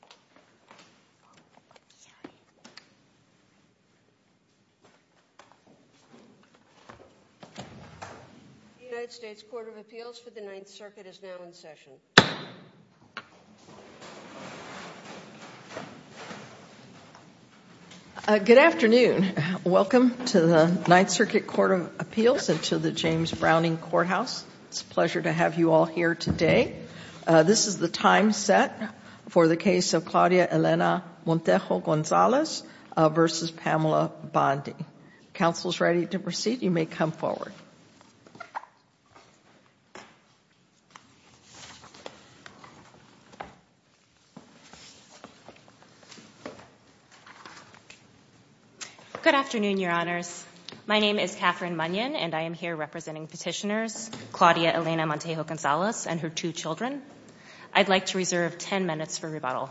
The United States Court of Appeals for the Ninth Circuit is now in session. Good afternoon. Welcome to the Ninth Circuit Court of Appeals and to the James Browning Courthouse. It's a pleasure to have you all here today. This is the time set for the case of Claudia Elena Montejo-Gonzalez v. Pamela Bondi. Counsel is ready to proceed. You may come forward. Good afternoon, Your Honors. My name is Catherine Munyon, and I am here representing Petitioners Claudia Elena Montejo-Gonzalez and her two children. I'd like to reserve 10 minutes for rebuttal.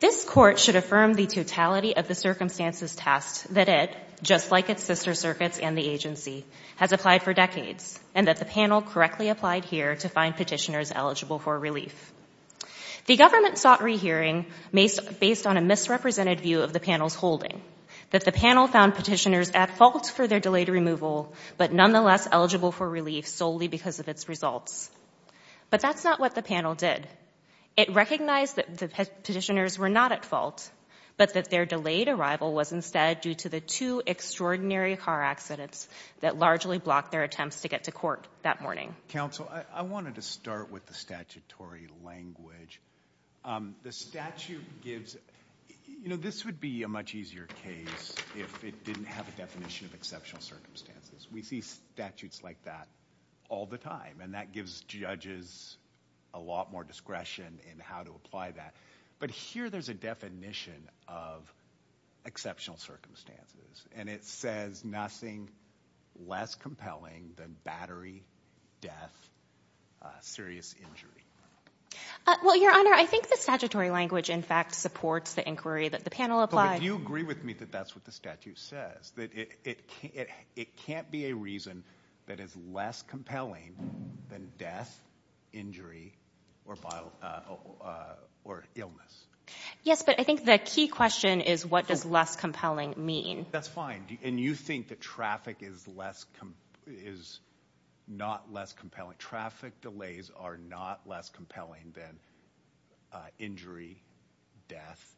This Court should affirm the totality of the circumstances tasked that it, just like its sister circuits and the agency, has applied for decades, and that the panel correctly applied here to find petitioners eligible for relief. The government sought rehearing based on a misrepresented view of the panel's holding, that the panel found petitioners at fault for their delayed removal, but nonetheless eligible for relief solely because of its results. But that's not what the panel did. It recognized that the petitioners were not at fault, but that their delayed arrival was instead due to the two extraordinary car accidents that largely blocked their attempts to get to court that morning. Counsel, I wanted to start with the statutory language. The statute gives, you know, this would be a much easier case if it didn't have a definition of exceptional circumstances. We see statutes like that all the time, and that gives judges a lot more discretion in how to apply that. But here there's a definition of exceptional circumstances, and it says nothing less compelling than battery, death, serious injury. Well, Your Honor, I think the statutory language, in fact, supports the inquiry that the panel applied. But would you agree with me that that's what the statute says, that it can't be a reason that is less compelling than death, injury, or illness? Yes, but I think the key question is what does less compelling mean? That's fine. And you think that traffic is not less compelling. Traffic delays are not less compelling than injury, death.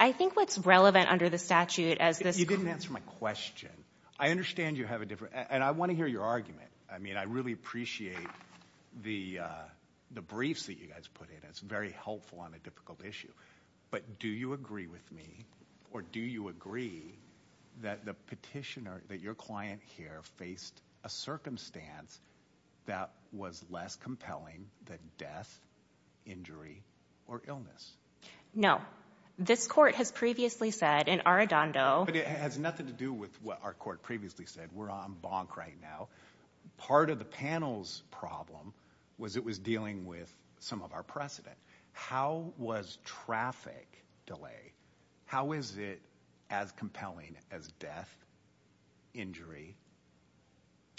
I think what's relevant under the statute as this... You didn't answer my question. I understand you have a different... And I want to hear your argument. I mean, I really appreciate the briefs that you guys put in. It's very helpful on a difficult issue. But do you agree with me, or do you agree that the petitioner, that your client here faced a circumstance that was less compelling than death, injury, or illness? No. This court has previously said in Arradondo... But it has nothing to do with what our court previously said. We're on bonk right now. Part of the panel's problem was it was dealing with some of our precedent. How was traffic delay... How is it as compelling as death, injury,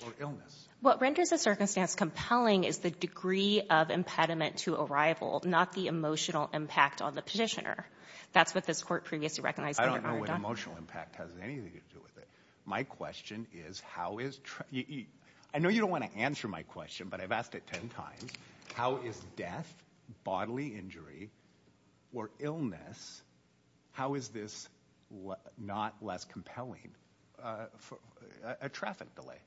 or illness? What renders a circumstance compelling is the degree of impediment to arrival, not the emotional impact on the petitioner. That's what this court previously recognized under Arradondo. I don't know what emotional impact has anything to do with it. My question is how is... I know you don't want to answer my question, but I've asked it 10 times. How is death, bodily injury, or illness... How is this not less compelling, a traffic delay?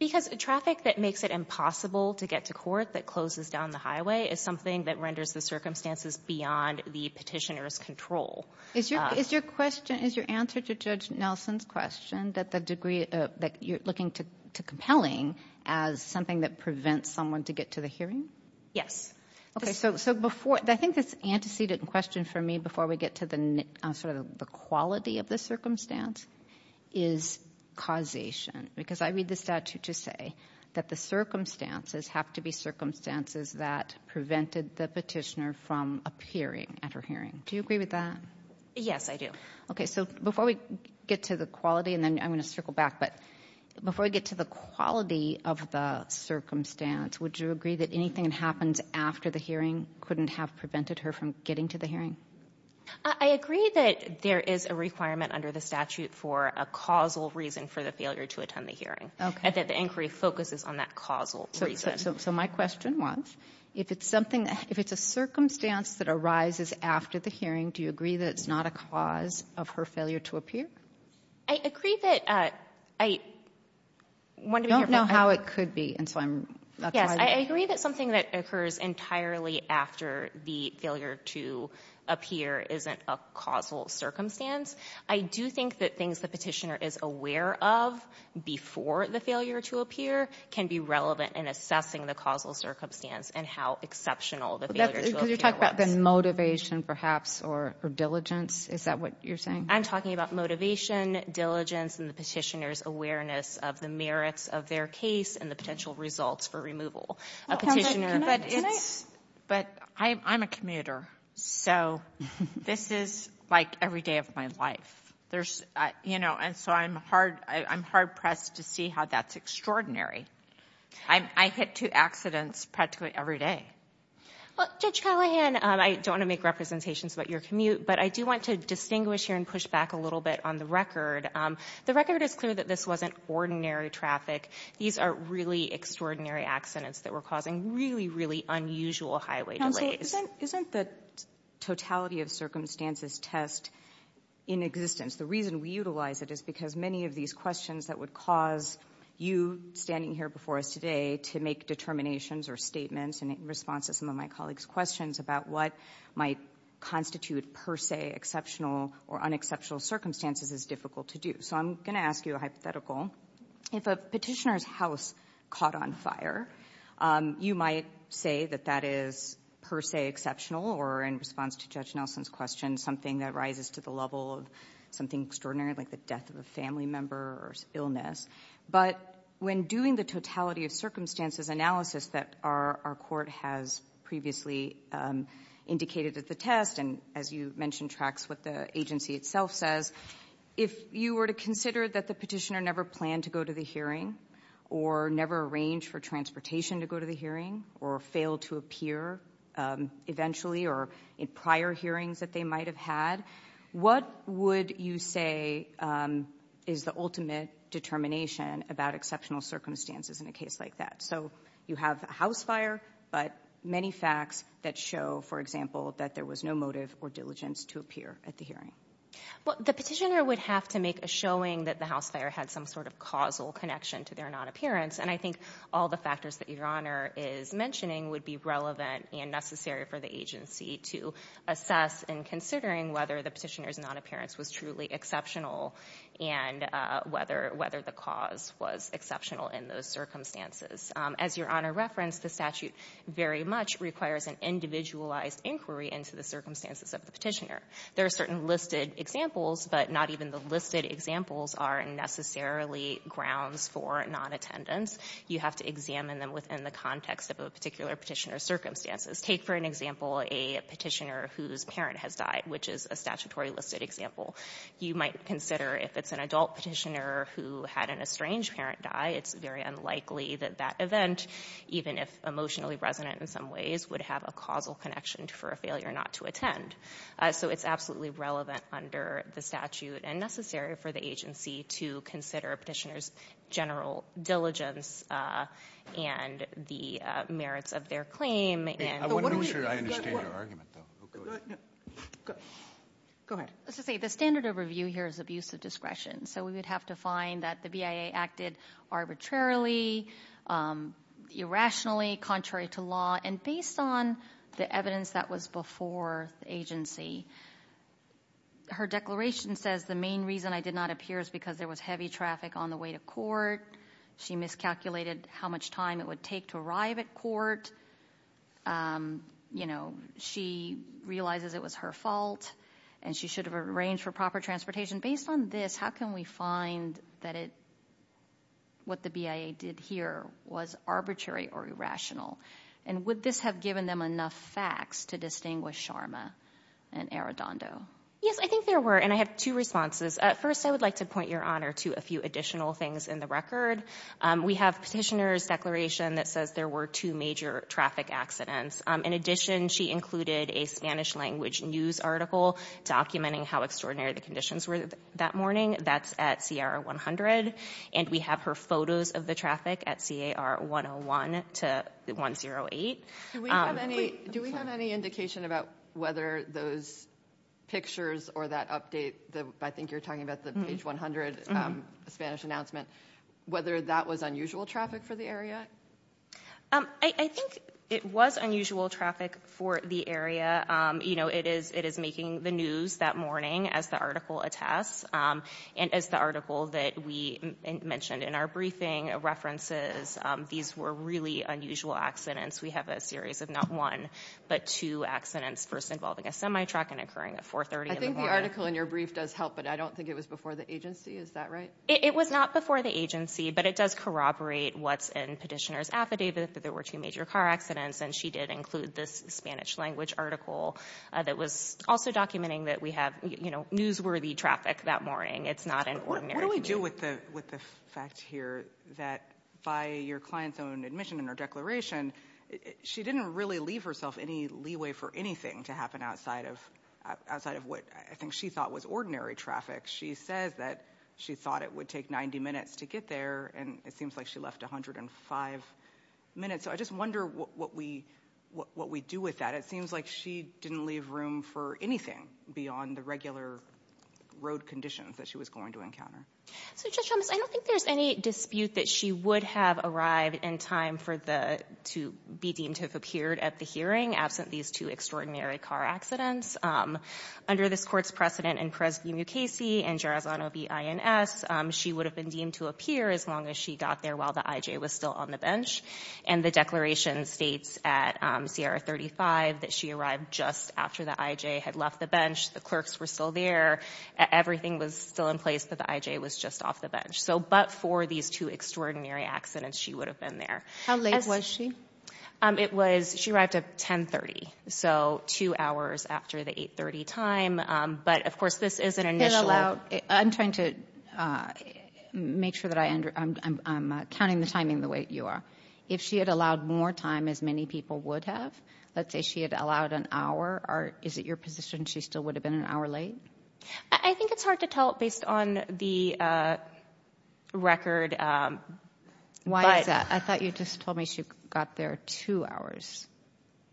Because traffic that makes it impossible to get to court, that closes down the highway, is something that renders the circumstances beyond the petitioner's control. Is your answer to Judge Nelson's question that you're looking to compelling as something that prevents someone to get to the hearing? Yes. Okay. So before... I think this antecedent question for me before we get to the sort of the quality of the circumstance is causation, because I read the statute to say that the circumstances have to be circumstances that prevented the petitioner from appearing at her hearing. Do you agree with that? Yes, I do. Okay. So before we get to the quality, and then I'm going to circle back, but before we get to the quality of the circumstance, would you agree that anything that happens after the hearing couldn't have prevented her from getting to the hearing? I agree that there is a requirement under the statute for a causal reason for the failure to attend the hearing. Okay. And that the inquiry focuses on that causal reason. So my question was, if it's something... If it's a circumstance that arises after the hearing, do you agree that it's not a cause of her failure to appear? I agree that... I... You don't know how it could be, and so I'm... Yes. I agree that something that occurs entirely after the failure to appear isn't a causal circumstance. I do think that things the petitioner is aware of before the failure to appear can be relevant in assessing the causal circumstance and how exceptional the failure to appear was. But that's because you're talking about the motivation, perhaps, or diligence. Is that what you're saying? I'm talking about motivation, diligence, and the petitioner's awareness of the merits of their case and the potential results for removal. A petitioner... Can I... Can I... But it's... But I'm a commuter, so this is, like, every day of my life. There's... You know, and so I'm hard... I'm hard-pressed to see how that's extraordinary. I hit two accidents practically every day. Well, Judge Callahan, I don't want to make representations about your commute, but I want to distinguish here and push back a little bit on the record. The record is clear that this wasn't ordinary traffic. These are really extraordinary accidents that were causing really, really unusual highway delays. Counsel, isn't the totality of circumstances test in existence? The reason we utilize it is because many of these questions that would cause you standing here before us today to make determinations or statements in response to some of my colleagues' questions about what might constitute per se exceptional or unexceptional circumstances is difficult to do. So I'm going to ask you a hypothetical. If a petitioner's house caught on fire, you might say that that is per se exceptional or in response to Judge Nelson's question, something that rises to the level of something extraordinary like the death of a family member or illness. But when doing the totality of circumstances analysis that our court has previously indicated at the test, and as you mentioned, tracks what the agency itself says, if you were to consider that the petitioner never planned to go to the hearing or never arranged for transportation to go to the hearing or failed to appear eventually or in prior hearings that they might have had, what would you say is the ultimate determination about exceptional circumstances in a case like that? So you have a house fire, but many facts that show, for example, that there was no motive or diligence to appear at the hearing. Well, the petitioner would have to make a showing that the house fire had some sort of causal connection to their non-appearance. And I think all the factors that Your Honor is mentioning would be relevant and necessary for the agency to assess in considering whether the petitioner's non-appearance was truly exceptional and whether the cause was exceptional in those circumstances. As Your Honor referenced, the statute very much requires an individualized inquiry into the circumstances of the petitioner. There are certain listed examples, but not even the listed examples are necessarily grounds for non-attendance. You have to examine them within the context of a particular petitioner's circumstances. Take for an example a petitioner whose parent has died, which is a statutory listed example. You might consider if it's an adult petitioner who had an estranged parent die, it's very unlikely that that event, even if emotionally resonant in some ways, would have a causal connection for a failure not to attend. So it's absolutely relevant under the statute and necessary for the agency to consider a petitioner's general diligence and the merits of their claim. I want to make sure I understand your argument, though. Go ahead. The standard of review here is abuse of discretion. So we would have to find that the BIA acted arbitrarily, irrationally, contrary to law, and based on the evidence that was before the agency. Her declaration says the main reason I did not appear is because there was heavy traffic on the way to court. She miscalculated how much time it would take to arrive at court. You know, she realizes it was her fault, and she should have arranged for proper transportation. Based on this, how can we find that what the BIA did here was arbitrary or irrational? And would this have given them enough facts to distinguish Sharma and Arradondo? Yes, I think there were, and I have two responses. First, I would like to point your honor to a few additional things in the record. We have petitioner's declaration that says there were two major traffic accidents. In addition, she included a Spanish-language news article documenting how extraordinary the conditions were that morning. That's at C.A.R. 100. And we have her photos of the traffic at C.A.R. 101 to 108. Do we have any indication about whether those pictures or that update, I think you're talking about the page 100 Spanish announcement, whether that was unusual traffic for the area? I think it was unusual traffic for the area. You know, it is making the news that morning, as the article attests. And as the article that we mentioned in our briefing references, these were really unusual accidents. We have a series of not one, but two accidents, first involving a semi-truck and occurring at 430 in the morning. I think the article in your brief does help, but I don't think it was before the agency. Is that right? It was not before the agency, but it does corroborate what's in petitioner's affidavit, that there were two major car accidents. And she did include this Spanish-language article that was also documenting that we have, you know, newsworthy traffic that morning. It's not an ordinary— What do we do with the fact here that by your client's own admission in her declaration, she didn't really leave herself any leeway for anything to happen outside of what I think she thought was ordinary traffic. She says that she thought it would take 90 minutes to get there, and it seems like she left 105 minutes. So I just wonder what we do with that. It seems like she didn't leave room for anything beyond the regular road conditions that she was going to encounter. So, Judge Thomas, I don't think there's any dispute that she would have arrived in time for the — to be deemed to have appeared at the hearing absent these two extraordinary car accidents. Under this Court's precedent in Perez v. Mukasey and Gerazzano v. INS, she would have been deemed to appear as long as she got there while the I.J. was still on the And the declaration states at Sierra 35 that she arrived just after the I.J. had left the bench. The clerks were still there. Everything was still in place, but the I.J. was just off the bench. So, but for these two extraordinary accidents, she would have been there. How late was she? It was — she arrived at 10.30, so two hours after the 8.30 time. But, of course, this is an initial — And allowed — I'm trying to make sure that I — I'm counting the timing the way you are. If she had allowed more time, as many people would have, let's say she had allowed an hour, is it your position she still would have been an hour late? I think it's hard to tell based on the record, but — Why is that? I thought you just told me she got there two hours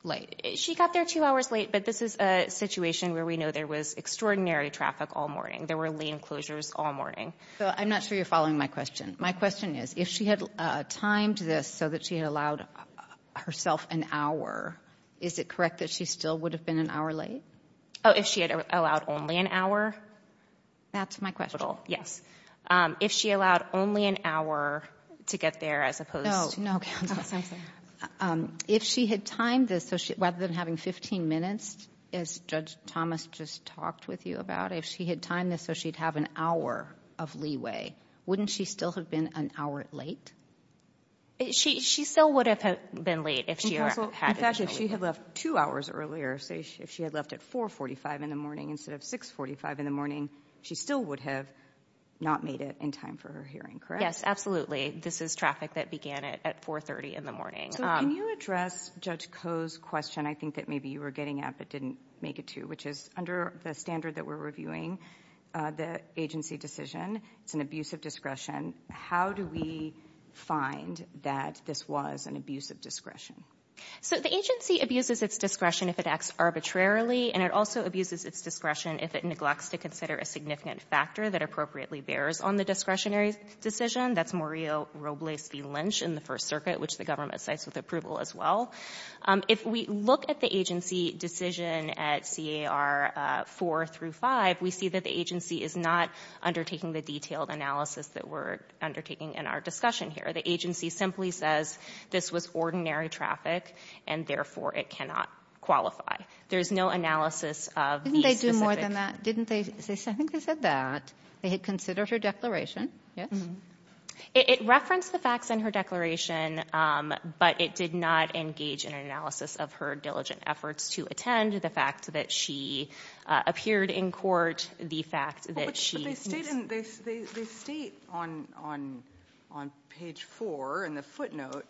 late. She got there two hours late, but this is a situation where we know there was extraordinary traffic all morning. There were lane closures all morning. So I'm not sure you're following my question. My question is, if she had timed this so that she had allowed herself an hour, is it correct that she still would have been an hour late? Oh, if she had allowed only an hour? That's my question. Yes. If she allowed only an hour to get there as opposed to — No. No, counsel. If she had timed this so she — rather than having 15 minutes, as Judge Thomas just talked with you about, if she had timed this so she'd have an hour of leeway, wouldn't she still have been an hour late? She still would have been late if she had — Judge, if she had left two hours earlier, say if she had left at 4.45 in the morning instead of 6.45 in the morning, she still would have not made it in time for her hearing, Yes, absolutely. This is traffic that began at 4.30 in the morning. So can you address Judge Koh's question I think that maybe you were getting at but didn't make it to, which is, under the standard that we're reviewing, the agency decision, it's an abuse of discretion. How do we find that this was an abuse of discretion? So the agency abuses its discretion if it acts arbitrarily, and it also abuses its discretion if it neglects to consider a significant factor that appropriately bears on the discretionary decision. That's Mario Robles v. Lynch in the First Circuit, which the government cites with approval as well. If we look at the agency decision at CAR 4 through 5, we see that the agency is not undertaking the detailed analysis that we're undertaking in our discussion here. The agency simply says this was ordinary traffic, and therefore it cannot qualify. There's no analysis of the specific Didn't they do more than that? Didn't they say, I think they said that. They had considered her declaration, yes? It referenced the facts in her declaration, but it did not engage in an analysis of her diligent efforts to attend, the fact that she appeared in court, the fact that she They state on page 4 in the footnote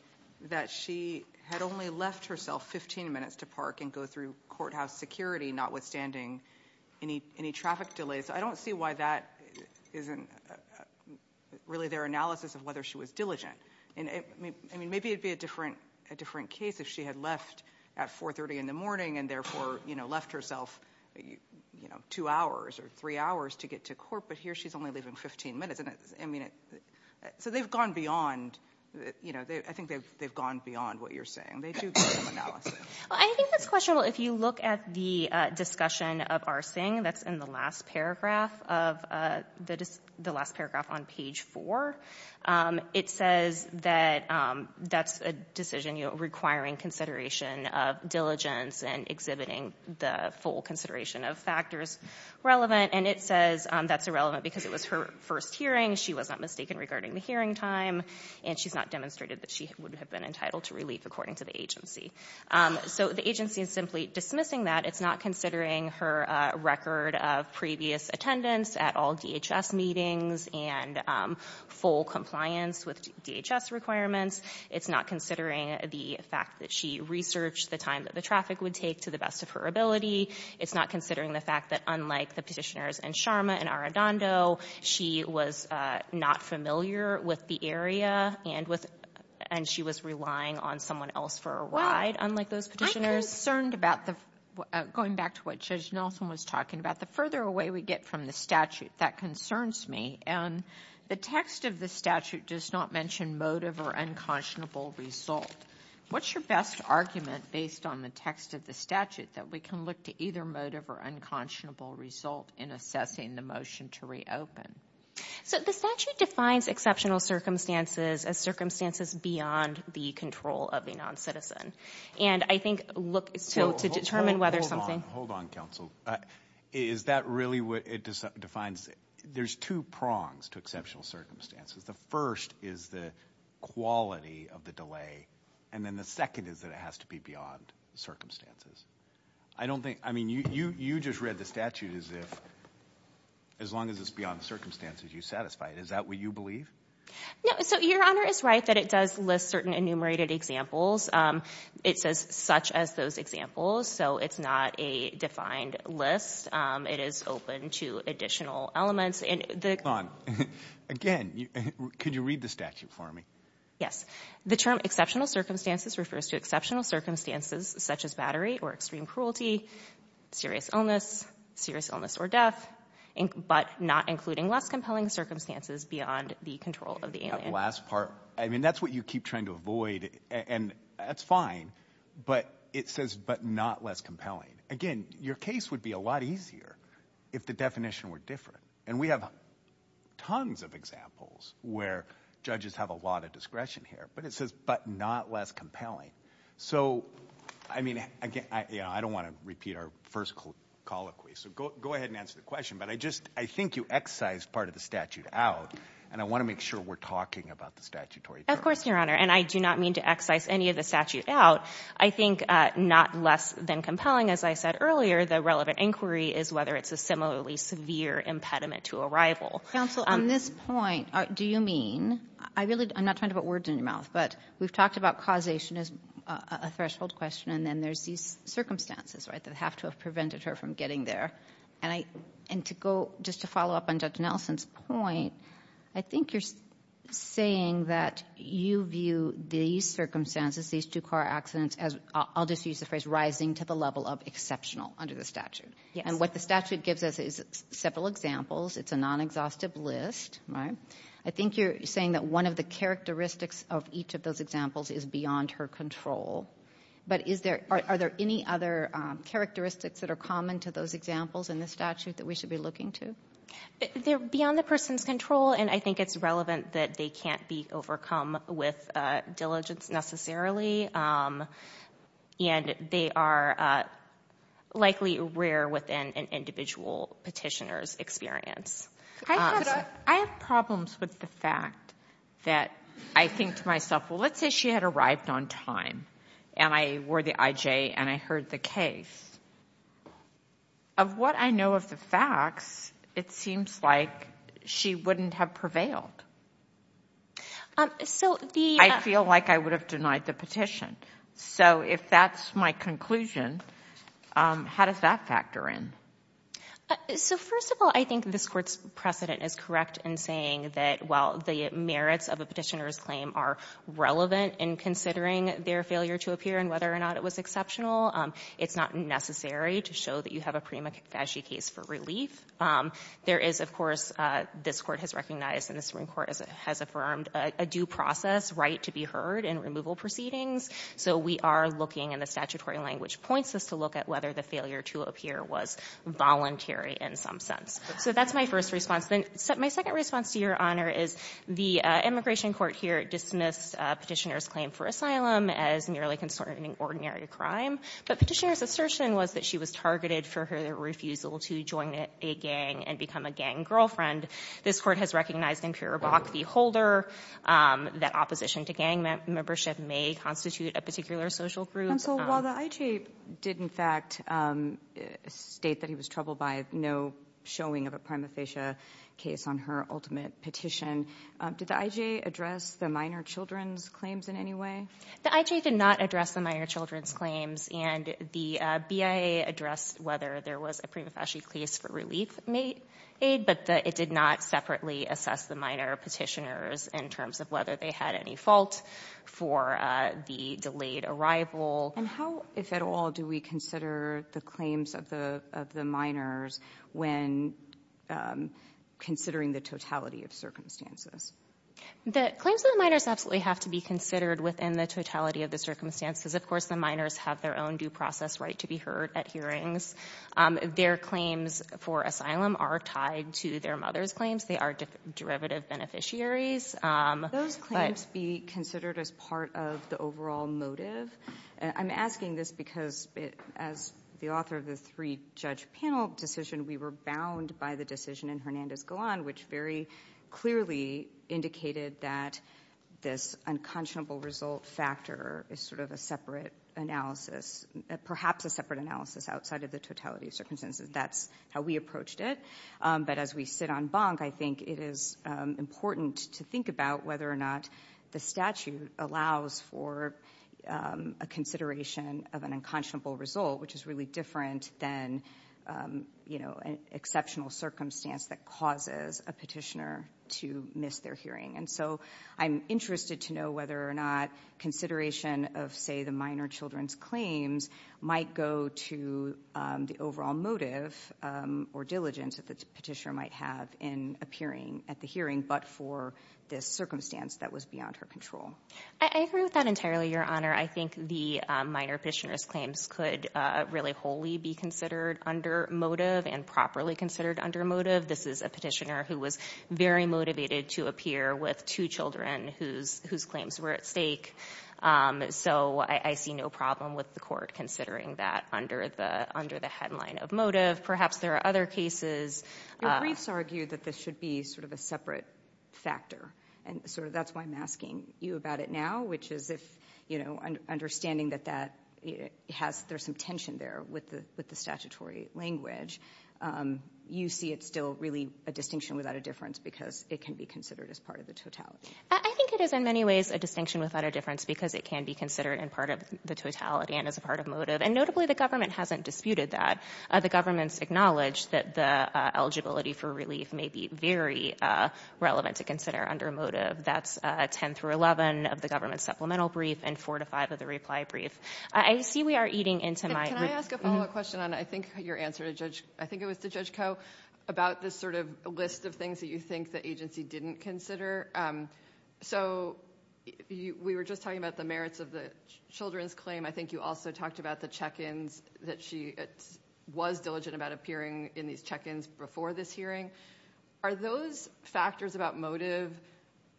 that she had only left herself 15 minutes to park and go through courthouse security, notwithstanding any traffic delays. I don't see why that isn't really their analysis of whether she was diligent. I mean, maybe it would be a different case if she had left at 4.30 in the morning and therefore left herself two hours or three hours to get to court, but here she's only leaving 15 minutes. So they've gone beyond. I think they've gone beyond what you're saying. They do need some analysis. I think that's questionable. If you look at the discussion of Arsing, that's in the last paragraph on page 4, it says that that's a decision requiring consideration of diligence and exhibiting the full consideration of factors relevant, and it says that's irrelevant because it was her first hearing. She was not mistaken regarding the hearing time, and she's not demonstrated that she would have been entitled to relief according to the agency. So the agency is simply dismissing that. It's not considering her record of previous attendance at all DHS meetings and full compliance with DHS requirements. It's not considering the fact that she researched the time that the traffic would take to the best of her ability. It's not considering the fact that unlike the petitioners in Sharma and Arradondo, she was not familiar with the area and she was relying on someone else for a ride, unlike those petitioners. I'm concerned about the, going back to what Judge Nelson was talking about, the further away we get from the statute, that concerns me. And the text of the statute does not mention motive or unconscionable result. What's your best argument based on the text of the statute that we can look to either motive or unconscionable result in assessing the motion to reopen? So the statute defines exceptional circumstances as circumstances beyond the control of a non-citizen. And I think look, so to determine whether something... Hold on, hold on counsel. Is that really what it defines? It defines, there's two prongs to exceptional circumstances. The first is the quality of the delay. And then the second is that it has to be beyond circumstances. I don't think, I mean, you just read the statute as if, as long as it's beyond circumstances, you're satisfied. Is that what you believe? No. So your honor is right that it does list certain enumerated examples. It says such as those examples. So it's not a defined list. It is open to additional elements. Hold on. Again, could you read the statute for me? Yes. The term exceptional circumstances refers to exceptional circumstances such as battery or extreme cruelty, serious illness, serious illness or death, but not including less compelling circumstances beyond the control of the alien. Last part. I mean, that's what you keep trying to avoid. And that's fine. But it says, but not less compelling. Again, your case would be a lot easier if the definition were different. And we have tons of examples where judges have a lot of discretion here. But it says, but not less compelling. So, I mean, I don't want to repeat our first colloquy. So go ahead and answer the question. But I just, I think you excised part of the statute out. And I want to make sure we're talking about the statutory term. Of course, your honor. And I do not mean to excise any of the statute out. I think not less than compelling, as I said earlier, the relevant inquiry is whether it's a similarly severe impediment to arrival. Counsel, on this point, do you mean, I'm not trying to put words in your mouth, but we've talked about causation as a threshold question, and then there's these circumstances, right, that have to have prevented her from getting there. And to go, just to follow up on Judge Nelson's point, I think you're saying that you view these circumstances, these two car accidents as, I'll just use the phrase, rising to the level of exceptional under the statute. And what the statute gives us is several examples. It's a non-exhaustive list, right? I think you're saying that one of the characteristics of each of those examples is beyond her control. But is there, are there any other characteristics that are common to those examples in the statute that we should be looking to? They're beyond the person's control, and I think it's relevant that they can't be overcome with diligence necessarily. And they are likely rare within an individual petitioner's experience. I have problems with the fact that I think to myself, well, let's say she had arrived on time, and I wore the IJ and I heard the case. Of what I know of the facts, it seems like she wouldn't have prevailed. I feel like I would have denied the petition. So if that's my conclusion, how does that factor in? So, first of all, I think this Court's precedent is correct in saying that, while the merits of a petitioner's claim are relevant in considering their failure to appear and whether or not it was exceptional, it's not necessary to show that you have a prima facie case for relief. There is, of course, this Court has recognized and the Supreme Court has affirmed a due process right to be heard in removal proceedings. So we are looking, and the statutory language points us to look at whether the failure to appear was voluntary in some sense. So that's my first response. Then my second response to Your Honor is the immigration court here dismissed petitioner's claim for asylum as merely concerning ordinary crime. But petitioner's assertion was that she was targeted for her refusal to join a gang and become a gang girlfriend. This Court has recognized in pure Bok v. Holder that opposition to gang membership may constitute a particular social group. And so while the IJ did, in fact, state that he was troubled by no showing of a prima Did the IJ address the minor children's claims in any way? The IJ did not address the minor children's claims. And the BIA addressed whether there was a prima facie case for relief aid, but it did not separately assess the minor petitioners in terms of whether they had any fault for the delayed arrival. And how, if at all, do we consider the claims of the minors when considering the totality of circumstances? The claims of the minors absolutely have to be considered within the totality of the circumstances. Of course, the minors have their own due process right to be heard at hearings. Their claims for asylum are tied to their mother's claims. They are derivative beneficiaries. Those claims be considered as part of the overall motive? I'm asking this because, as the author of the three-judge panel decision, we were bound by the decision in Hernandez-Golan, which very clearly indicated that this unconscionable result factor is sort of a separate analysis, perhaps a separate analysis outside of the totality of circumstances. That's how we approached it. But as we sit on bunk, I think it is important to think about whether or not the statute allows for a consideration of an unconscionable result, which is really different than an exceptional circumstance that causes a petitioner to miss their hearing. And so I'm interested to know whether or not consideration of, say, the minor children's claims might go to the overall motive or diligence that the petitioner might have in appearing at the hearing, but for this circumstance that was beyond her control. I agree with that entirely, Your Honor. I think the minor petitioner's claims could really wholly be considered under motive and properly considered under motive. This is a petitioner who was very motivated to appear with two children whose claims were at stake. So I see no problem with the court considering that under the headline of motive. Perhaps there are other cases. Your briefs argue that this should be sort of a separate factor, and sort of that's why I'm asking you about it now, which is if understanding that there's some tension there with the statutory language, you see it's still really a distinction without a difference because it can be considered as part of the totality. I think it is in many ways a distinction without a difference because it can be considered in part of the totality and as a part of motive, and notably the government hasn't disputed that. The government's acknowledged that the eligibility for relief may be very relevant to consider under motive. That's 10 through 11 of the government supplemental brief and 4 to 5 of the reply brief. I see we are eating into my room. Can I ask a follow-up question on I think your answer to Judge Coe about this sort of list of things that you think the agency didn't consider? So we were just talking about the merits of the children's claim. I think you also talked about the check-ins that she was diligent about appearing in these check-ins before this hearing. Are those factors about motive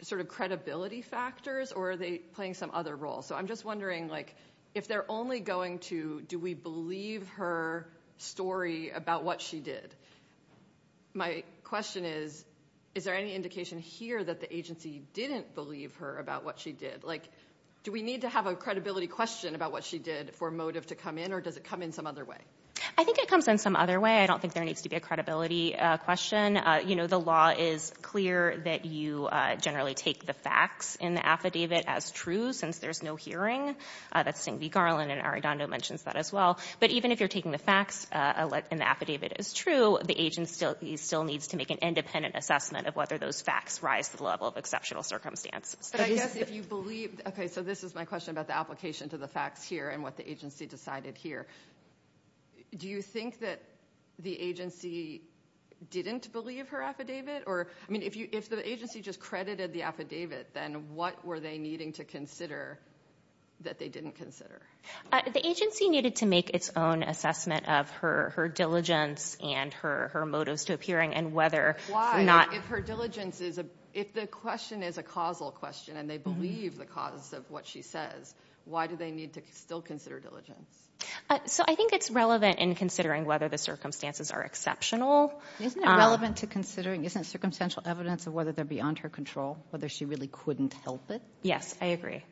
sort of credibility factors or are they playing some other role? So I'm just wondering if they're only going to, do we believe her story about what she did? My question is, is there any indication here that the agency didn't believe her about what she did? Do we need to have a credibility question about what she did for motive to come in or does it come in some other way? I think it comes in some other way. I don't think there needs to be a credibility question. You know, the law is clear that you generally take the facts in the affidavit as true since there's no hearing. That's Sting v. Garland and Arredondo mentions that as well. But even if you're taking the facts and the affidavit is true, the agency still needs to make an independent assessment of whether those facts rise to the level of exceptional circumstances. But I guess if you believe, okay, so this is my question about the application to the facts here and what the agency decided here. Do you think that the agency didn't believe her affidavit? I mean, if the agency just credited the affidavit, then what were they needing to consider that they didn't consider? The agency needed to make its own assessment of her diligence and her motives to appearing and whether or not. If her diligence is, if the question is a causal question and they believe the cause of what she says, why do they need to still consider diligence? So I think it's relevant in considering whether the circumstances are exceptional. Isn't it relevant to considering, isn't it circumstantial evidence of whether they're beyond her control, whether she really couldn't help it? Yes, I agree.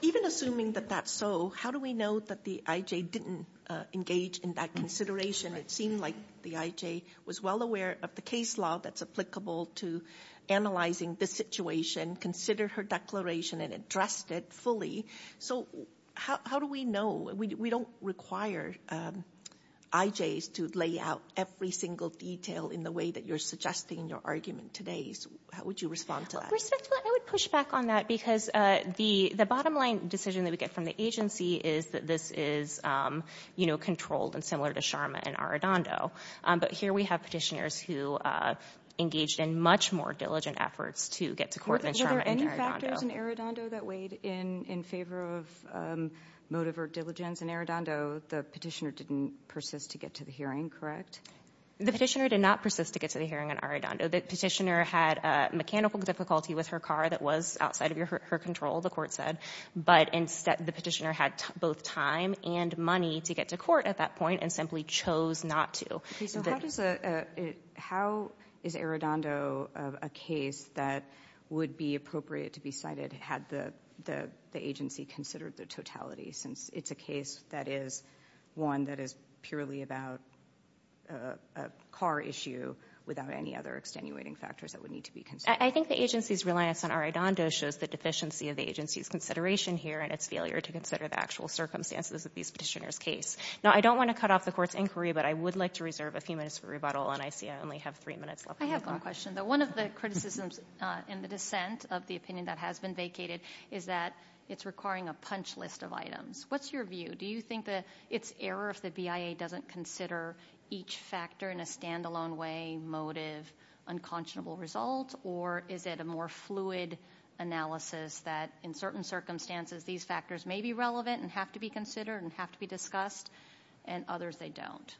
Even assuming that that's so, how do we know that the IJ didn't engage in that consideration? It seemed like the IJ was well aware of the case law that's applicable to analyzing the situation, considered her declaration and addressed it fully. So how do we know? We don't require IJs to lay out every single detail in the way that you're suggesting in your argument today. How would you respond to that? Respectfully, I would push back on that because the bottom line decision that we get from the agency is that this is controlled and similar to Sharma and Arradondo. But here we have petitioners who engaged in much more diligent efforts to get to court in Sharma and Arradondo. Were there any factors in Arradondo that weighed in in favor of motive or diligence? In Arradondo, the petitioner didn't persist to get to the hearing, correct? The petitioner did not persist to get to the hearing in Arradondo. The petitioner had mechanical difficulty with her car that was outside of her control, the court said. But instead, the petitioner had both time and money to get to court at that point and simply chose not to. How is Arradondo a case that would be appropriate to be cited had the agency considered the totality since it's a case that is one that is purely about a car issue without any other extenuating factors that would need to be considered? I think the agency's reliance on Arradondo shows the deficiency of the agency's consideration here and its failure to consider the actual circumstances of these petitioners' case. Now, I don't want to cut off the court's inquiry, but I would like to reserve a few minutes for rebuttal, and I see I only have three minutes left. I have one question, though. One of the criticisms in the dissent of the opinion that has been vacated is that it's requiring a punch list of items. What's your view? Do you think that it's error if the BIA doesn't consider each factor in a standalone way, motive, unconscionable result, or is it a more fluid analysis that in certain circumstances these factors may be relevant and have to be considered and have to be discussed and others they don't?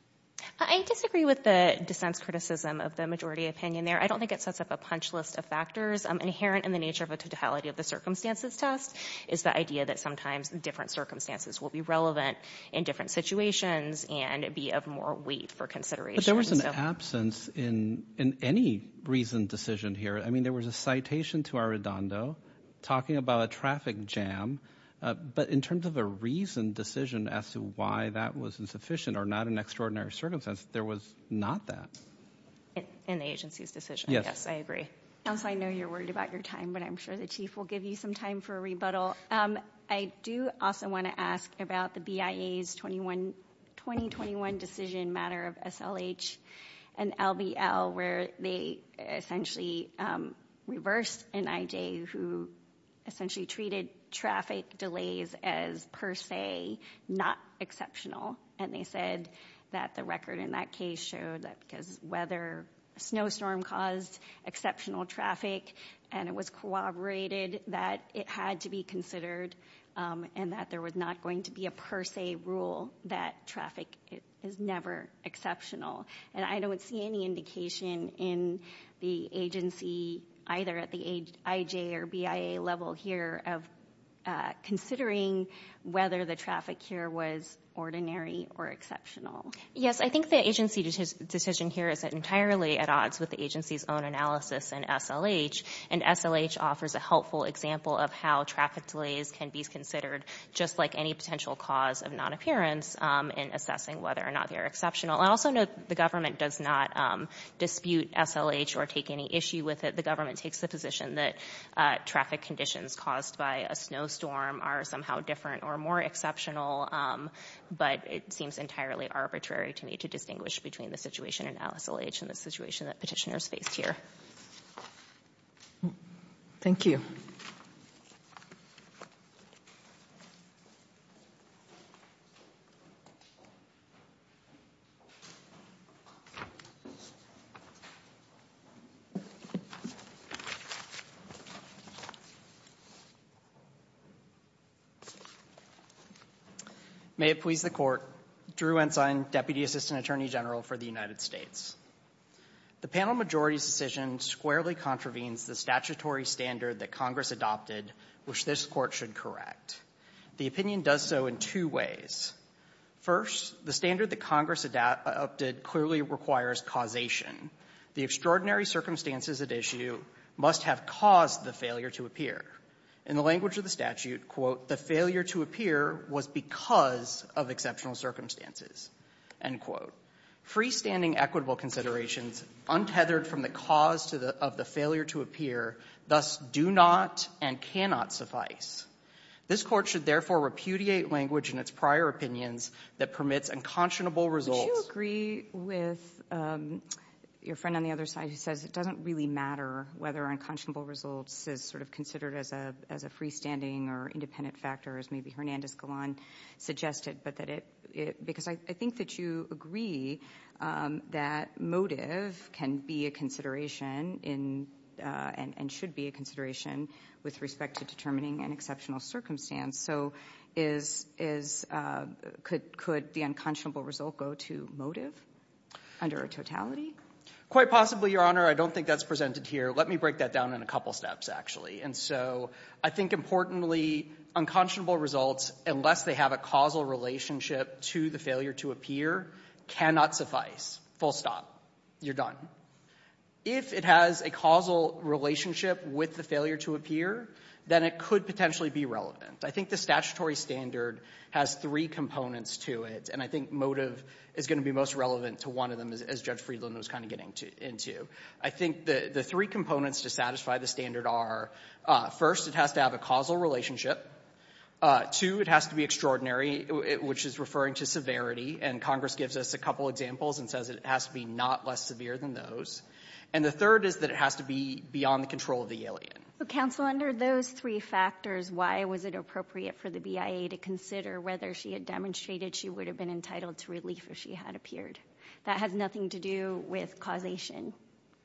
I disagree with the dissent's criticism of the majority opinion there. I don't think it sets up a punch list of factors. Inherent in the nature of a totality of the circumstances test is the idea that sometimes different circumstances will be relevant in different situations and be of more weight for consideration. But there was an absence in any reasoned decision here. I mean, there was a citation to Arradondo talking about a traffic jam, but in terms of a reasoned decision as to why that was insufficient or not an extraordinary circumstance, there was not that. In the agency's decision? Yes. Yes, I agree. Counsel, I know you're worried about your time, but I'm sure the Chief will give you some time for a rebuttal. I do also want to ask about the BIA's 2021 decision matter of SLH and LBL where they essentially reversed NIJ, who essentially treated traffic delays as per se, not exceptional. And they said that the record in that case showed that because snowstorm caused exceptional traffic and it was corroborated that it had to be considered and that there was not going to be a per se rule that traffic is never exceptional. And I don't see any indication in the agency, either at the IJ or BIA level here, of considering whether the traffic here was ordinary or exceptional. Yes, I think the agency decision here is entirely at odds with the agency's own analysis in SLH, and SLH offers a helpful example of how traffic delays can be considered just like any potential cause of non-appearance in assessing whether or not they are exceptional. I also note the government does not dispute SLH or take any issue with it. The government takes the position that traffic conditions caused by a snowstorm are somehow different or more exceptional, but it seems entirely arbitrary to me to distinguish between the situation in SLH and the situation that petitioners faced here. Thank you. May it please the Court. Drew Ensign, Deputy Assistant Attorney General for the United States. The panel majority's decision squarely contravenes the statutory standard that Congress adopted, which this Court should correct. The opinion does so in two ways. First, the standard that Congress adopted clearly requires causation. The extraordinary circumstances at issue must have caused the failure to appear. In the language of the statute, quote, the failure to appear was because of exceptional circumstances, end quote. Freestanding equitable considerations untethered from the cause of the failure to appear thus do not and cannot suffice. This Court should therefore repudiate language in its prior opinions that permits unconscionable results. Would you agree with your friend on the other side who says it doesn't really matter whether unconscionable results is sort of considered as a freestanding or independent factor, as maybe Hernandez-Golan suggested, because I think that you agree that motive can be a consideration and should be a consideration with respect to determining an exceptional circumstance. So could the unconscionable result go to motive under a totality? Quite possibly, Your Honor. I don't think that's presented here. Let me break that down in a couple steps, actually. And so I think, importantly, unconscionable results, unless they have a causal relationship to the failure to appear, cannot suffice. Full stop. You're done. If it has a causal relationship with the failure to appear, then it could potentially be relevant. I think the statutory standard has three components to it, and I think motive is going to be most relevant to one of them, as Judge Friedland was kind of getting into. I think the three components to satisfy the standard are, first, it has to have a causal relationship. Two, it has to be extraordinary, which is referring to severity. And Congress gives us a couple examples and says it has to be not less severe than those. And the third is that it has to be beyond the control of the alien. Counsel, under those three factors, why was it appropriate for the BIA to consider whether she had demonstrated she would have been entitled to relief if she had appeared? That has nothing to do with causation.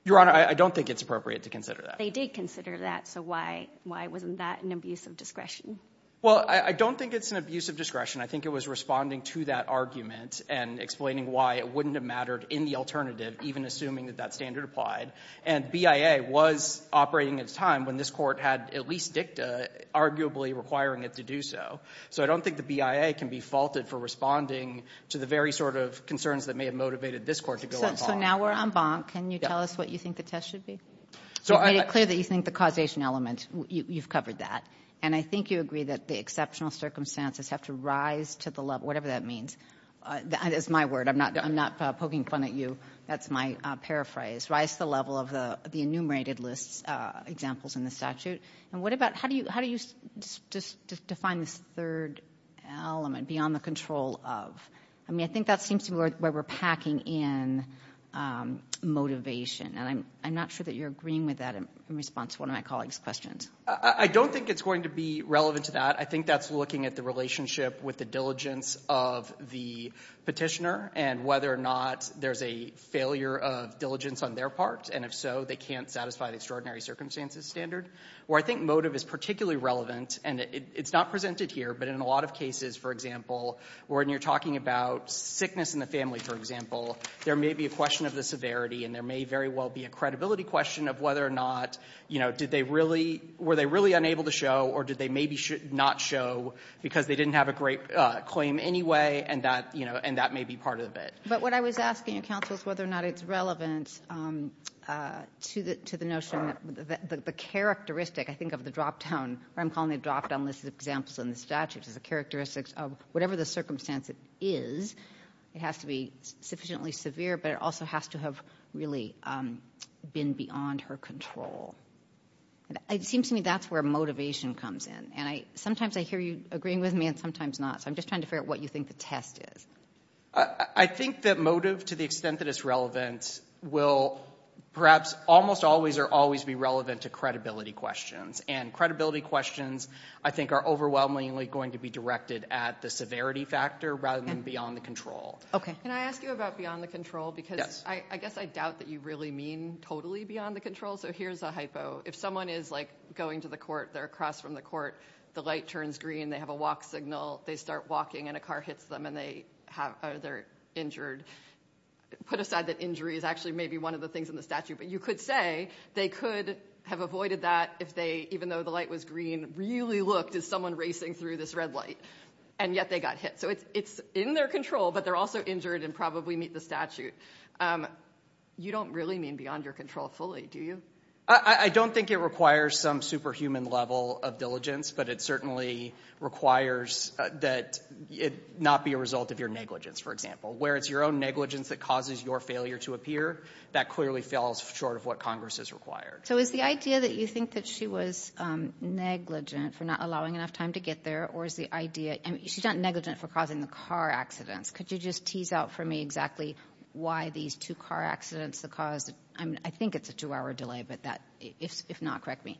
Your Honor, I don't think it's appropriate to consider that. But they did consider that, so why wasn't that an abuse of discretion? Well, I don't think it's an abuse of discretion. I think it was responding to that argument and explaining why it wouldn't have mattered in the alternative, even assuming that that standard applied. And BIA was operating at a time when this court had at least dicta, arguably requiring it to do so. So I don't think the BIA can be faulted for responding to the very sort of concerns that may have motivated this court to go on bonk. So now we're on bonk. Can you tell us what you think the test should be? You've made it clear that you think the causation element. You've covered that. And I think you agree that the exceptional circumstances have to rise to the level, whatever that means. That is my word. I'm not poking fun at you. That's my paraphrase. Rise to the level of the enumerated list examples in the statute. And what about how do you define this third element, beyond the control of? I mean, I think that seems to be where we're packing in motivation. And I'm not sure that you're agreeing with that in response to one of my colleagues' questions. I don't think it's going to be relevant to that. I think that's looking at the relationship with the diligence of the petitioner and whether or not there's a failure of diligence on their part. And if so, they can't satisfy the extraordinary circumstances standard. Where I think motive is particularly relevant, and it's not presented here, but in a lot of cases, for example, when you're talking about sickness in the family, for example, there may be a question of the severity, and there may very well be a credibility question of whether or not, you know, did they really, were they really unable to show, or did they maybe not show because they didn't have a great claim anyway, and that, you know, and that may be part of it. But what I was asking you, Counsel, is whether or not it's relevant to the notion that the characteristic, I think, of the dropdown, what I'm calling the dropdown list of examples in the statute, is the characteristics of whatever the circumstance is, it has to be sufficiently severe, but it also has to have really been beyond her control. It seems to me that's where motivation comes in, and sometimes I hear you agreeing with me and sometimes not, so I'm just trying to figure out what you think the test is. I think that motive, to the extent that it's relevant, will perhaps almost always or always be relevant to credibility questions, and credibility questions, I think, are overwhelmingly going to be directed at the severity factor rather than beyond the control. Okay. Can I ask you about beyond the control? Yes. Because I guess I doubt that you really mean totally beyond the control, so here's a hypo. If someone is, like, going to the court, they're across from the court, the light turns green, they have a walk signal, they start walking and a car hits them and they're injured, put aside that injury is actually maybe one of the things in the statute, but you could say they could have avoided that if they, even though the light was green, really looked as someone racing through this red light, and yet they got hit. So it's in their control, but they're also injured and probably meet the statute. You don't really mean beyond your control fully, do you? I don't think it requires some superhuman level of diligence, but it certainly requires that it not be a result of your negligence, for example. Where it's your own negligence that causes your failure to appear, that clearly falls short of what Congress has required. So is the idea that you think that she was negligent for not allowing enough time to get there, or is the idea, she's not negligent for causing the car accidents. Could you just tease out for me exactly why these two car accidents, the cause, I think it's a two-hour delay, but if not, correct me.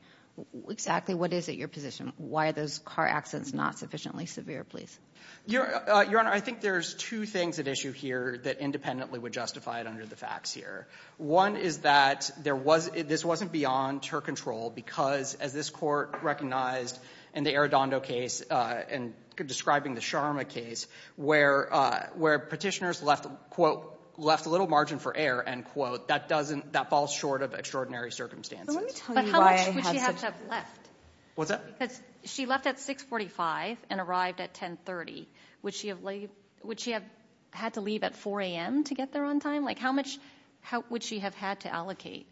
Exactly what is it, your position? Why are those car accidents not sufficiently severe, please? Your Honor, I think there's two things at issue here that independently would justify it under the facts here. One is that there was, this wasn't beyond her control, because as this Court recognized in the Arradondo case, and describing the Sharma case, where petitioners left, quote, left a little margin for error, end quote, that falls short of extraordinary circumstances. But how much would she have to have left? What's that? She left at 6.45 and arrived at 10.30. Would she have had to leave at 4 a.m. to get there on time? How much would she have had to allocate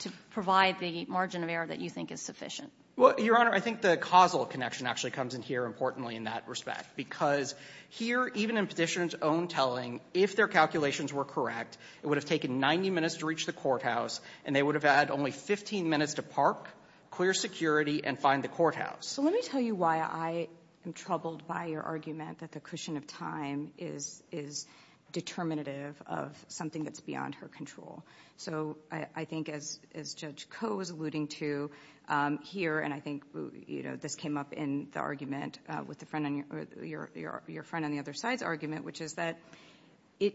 to provide the margin of error that you think is sufficient? Well, your Honor, I think the causal connection actually comes in here, importantly, in that respect. Because here, even in Petitioner's own telling, if their calculations were correct, it would have taken 90 minutes to reach the courthouse, and they would have had only 15 minutes to park, clear security, and find the courthouse. So let me tell you why I am troubled by your argument that the cushion of time is determinative of something that's beyond her control. So I think, as Judge Koh was alluding to here, and I think this came up in the argument with your friend on the other side's argument, which is that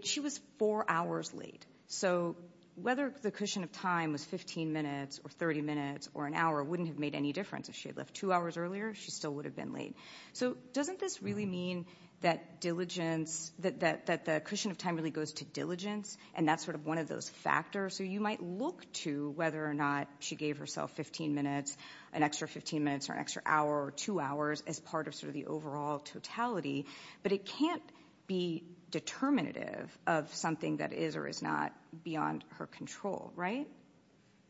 she was four hours late. So whether the cushion of time was 15 minutes or 30 minutes or an hour wouldn't have made any difference. If she had left two hours earlier, she still would have been late. So doesn't this really mean that diligence, that the cushion of time really goes to diligence, and that's sort of one of those factors? So you might look to whether or not she gave herself 15 minutes, an extra 15 minutes, or an extra hour or two hours, as part of sort of the overall totality, but it can't be determinative of something that is or is not beyond her control, right?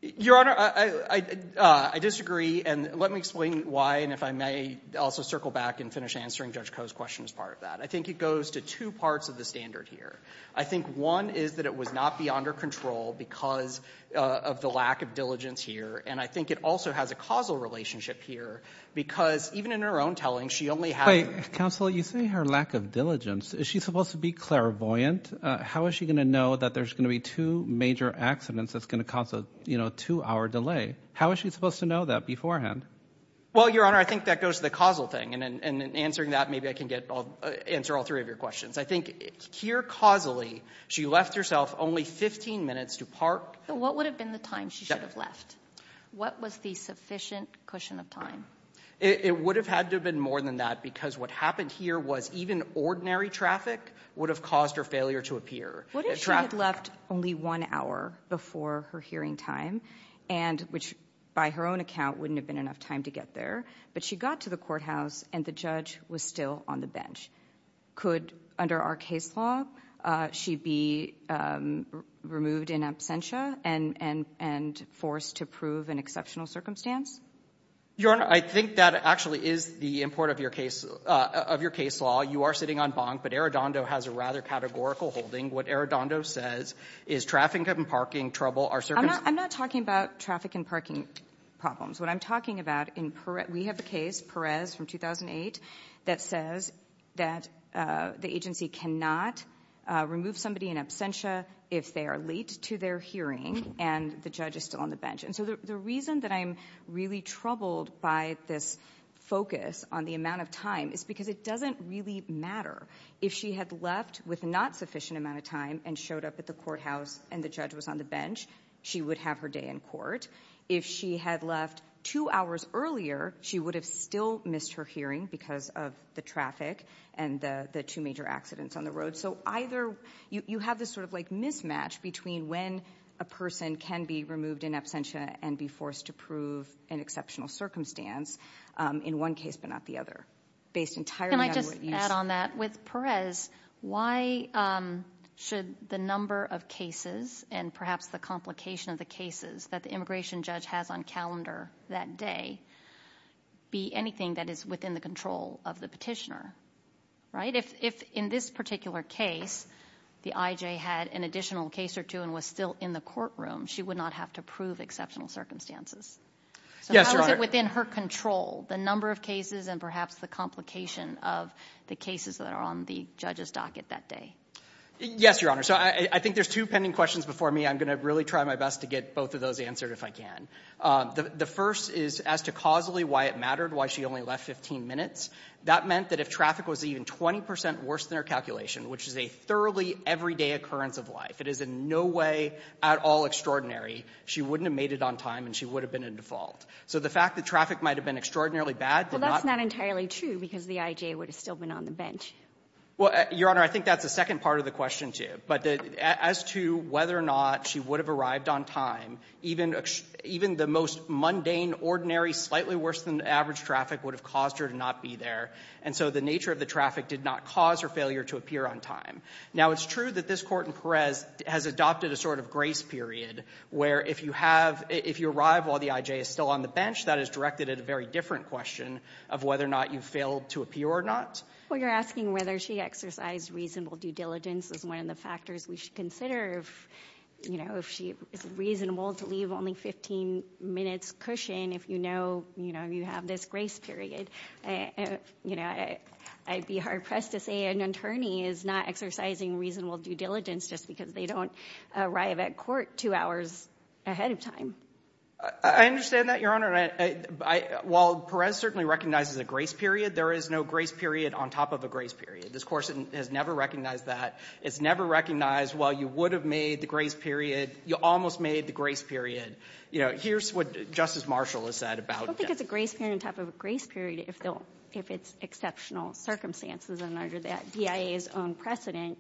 Your Honor, I disagree. And let me explain why, and if I may also circle back and finish answering Judge Koh's question as part of that. I think it goes to two parts of the standard here. I think one is that it was not beyond her control because of the lack of diligence here, and I think it also has a causal relationship here because even in her own telling, she only had... Wait, counsel, you say her lack of diligence. Is she supposed to be clairvoyant? How is she going to know that there's going to be two major accidents that's going to cause a two-hour delay? How is she supposed to know that beforehand? Well, Your Honor, I think that goes to the causal thing, and in answering that, maybe I can answer all three of your questions. I think here, causally, she left herself only 15 minutes to park. What would have been the time she should have left? What was the sufficient cushion of time? It would have had to have been more than that because what happened here was even ordinary traffic would have caused her failure to appear. What if she had left only one hour before her hearing time, and which, by her own account, wouldn't have been enough time to get there, but she got to the courthouse and the judge was still on the bench? Could, under our case law, she be removed in absentia and forced to prove an exceptional circumstance? Your Honor, I think that actually is the import of your case law. You are sitting on bonk, but Arradondo has a rather categorical holding. What Arradondo says is traffic and parking trouble are circumstances. I'm not talking about traffic and parking problems. What I'm talking about in Perez — we have a case, Perez from 2008, that says that the agency cannot remove somebody in absentia if they are late to their hearing and the judge is still on the bench. The reason that I'm really troubled by this focus on the amount of time is because it doesn't really matter. If she had left with not sufficient amount of time and showed up at the courthouse and the judge was on the bench, she would have her day in court. If she had left two hours earlier, she would have still missed her hearing because of the traffic and the two major accidents on the road. So either you have this sort of mismatch between when a person can be removed in absentia and be forced to prove an exceptional circumstance in one case but not the other. Can I just add on that? With Perez, why should the number of cases and perhaps the complication of the cases that the immigration judge has on calendar that day be anything that is within the control of the petitioner? Right? If in this particular case the IJ had an additional case or two and was still in the courtroom, she would not have to prove exceptional circumstances. So how is it within her control, the number of cases and perhaps the complication of the cases that are on the judge's docket that day? Yes, Your Honor. So I think there's two pending questions before me. I'm going to really try my best to get both of those answered if I can. The first is as to causally why it mattered, why she only left 15 minutes. That meant that if traffic was even 20 percent worse than her calculation, which is a thoroughly everyday occurrence of life, it is in no way at all extraordinary, she wouldn't have made it on time and she would have been in default. So the fact that traffic might have been extraordinarily bad did not ---- Well, that's not entirely true because the IJ would have still been on the bench. Well, Your Honor, I think that's the second part of the question, too. But as to whether or not she would have arrived on time, even the most mundane, ordinary, slightly worse than average traffic would have caused her to not be there. And so the nature of the traffic did not cause her failure to appear on time. Now, it's true that this court in Perez has adopted a sort of grace period where if you arrive while the IJ is still on the bench, that is directed at a very different question of whether or not you failed to appear or not. Well, you're asking whether she exercised reasonable due diligence as one of the factors we should consider if she is reasonable to leave only 15 minutes cushion if you know you have this grace period. I'd be hard-pressed to say an attorney is not exercising reasonable due diligence just because they don't arrive at court two hours ahead of time. I understand that, Your Honor. While Perez certainly recognizes a grace period, there is no grace period on top of a grace period. This Court has never recognized that. It's never recognized, well, you would have made the grace period. You almost made the grace period. You know, here's what Justice Marshall has said about it. I don't think it's a grace period on top of a grace period if it's exceptional circumstances. And under the DIA's own precedent,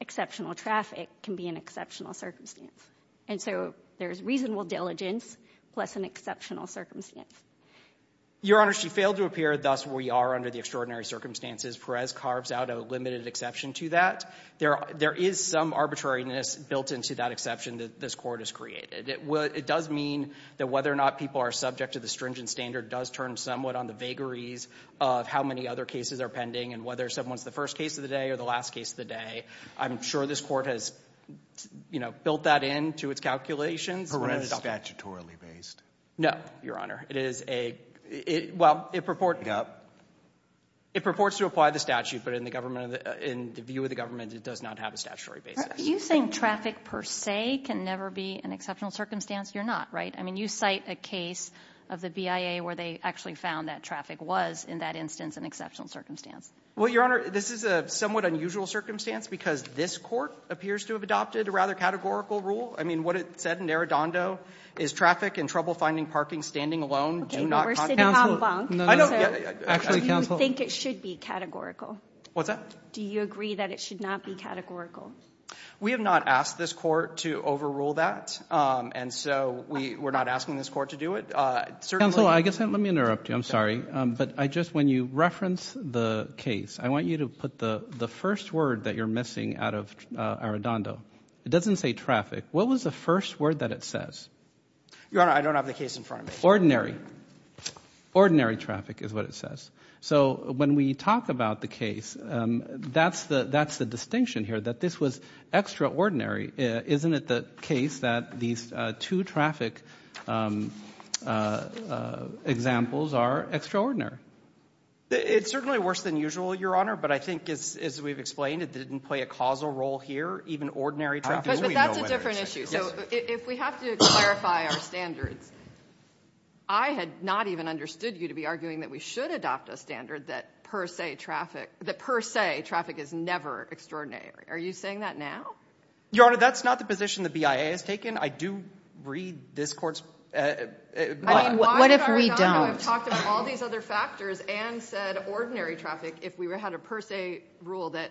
exceptional traffic can be an exceptional circumstance. And so there is reasonable diligence plus an exceptional circumstance. Your Honor, she failed to appear. Thus, we are under the extraordinary circumstances. Perez carves out a limited exception to that. There is some arbitrariness built into that exception that this Court has created. It does mean that whether or not people are subject to the stringent standard does turn somewhat on the vagaries of how many other cases are pending and whether someone's the first case of the day or the last case of the day. I'm sure this Court has, you know, built that into its calculations. Perez is statutorily based. No, Your Honor. It is a—well, it purports to apply the statute, but in the government, in the view of the government, it does not have a statutory basis. Are you saying traffic per se can never be an exceptional circumstance? You're not, right? I mean, you cite a case of the BIA where they actually found that traffic was, in that instance, an exceptional circumstance. Well, Your Honor, this is a somewhat unusual circumstance because this Court appears to have adopted a rather categorical rule. I mean, what it said in Arradondo is traffic and trouble-finding parking standing alone do not— Okay. We're sitting on bunk. No, no. Actually, counsel— I think it should be categorical. What's that? Do you agree that it should not be categorical? We have not asked this Court to overrule that, and so we're not asking this Court to do it. Certainly— Counsel, I guess let me interrupt you. I'm sorry. But I just, when you reference the case, I want you to put the first word that you're missing out of Arradondo. It doesn't say traffic. What was the first word that it says? Your Honor, I don't have the case in front of me. Ordinary. Ordinary traffic is what it says. So when we talk about the case, that's the distinction here, that this was extraordinary. Isn't it the case that these two traffic examples are extraordinary? It's certainly worse than usual, Your Honor. But I think, as we've explained, it didn't play a causal role here. Even ordinary traffic— But that's a different issue. So if we have to clarify our standards, I had not even understood you to be arguing that we should adopt a standard that per se traffic—that per se traffic is never extraordinary. Are you saying that now? Your Honor, that's not the position the BIA has taken. I do read this Court's— What if we don't? I mean, why did Arradondo have talked about all these other factors and said ordinary traffic if we had a per se rule that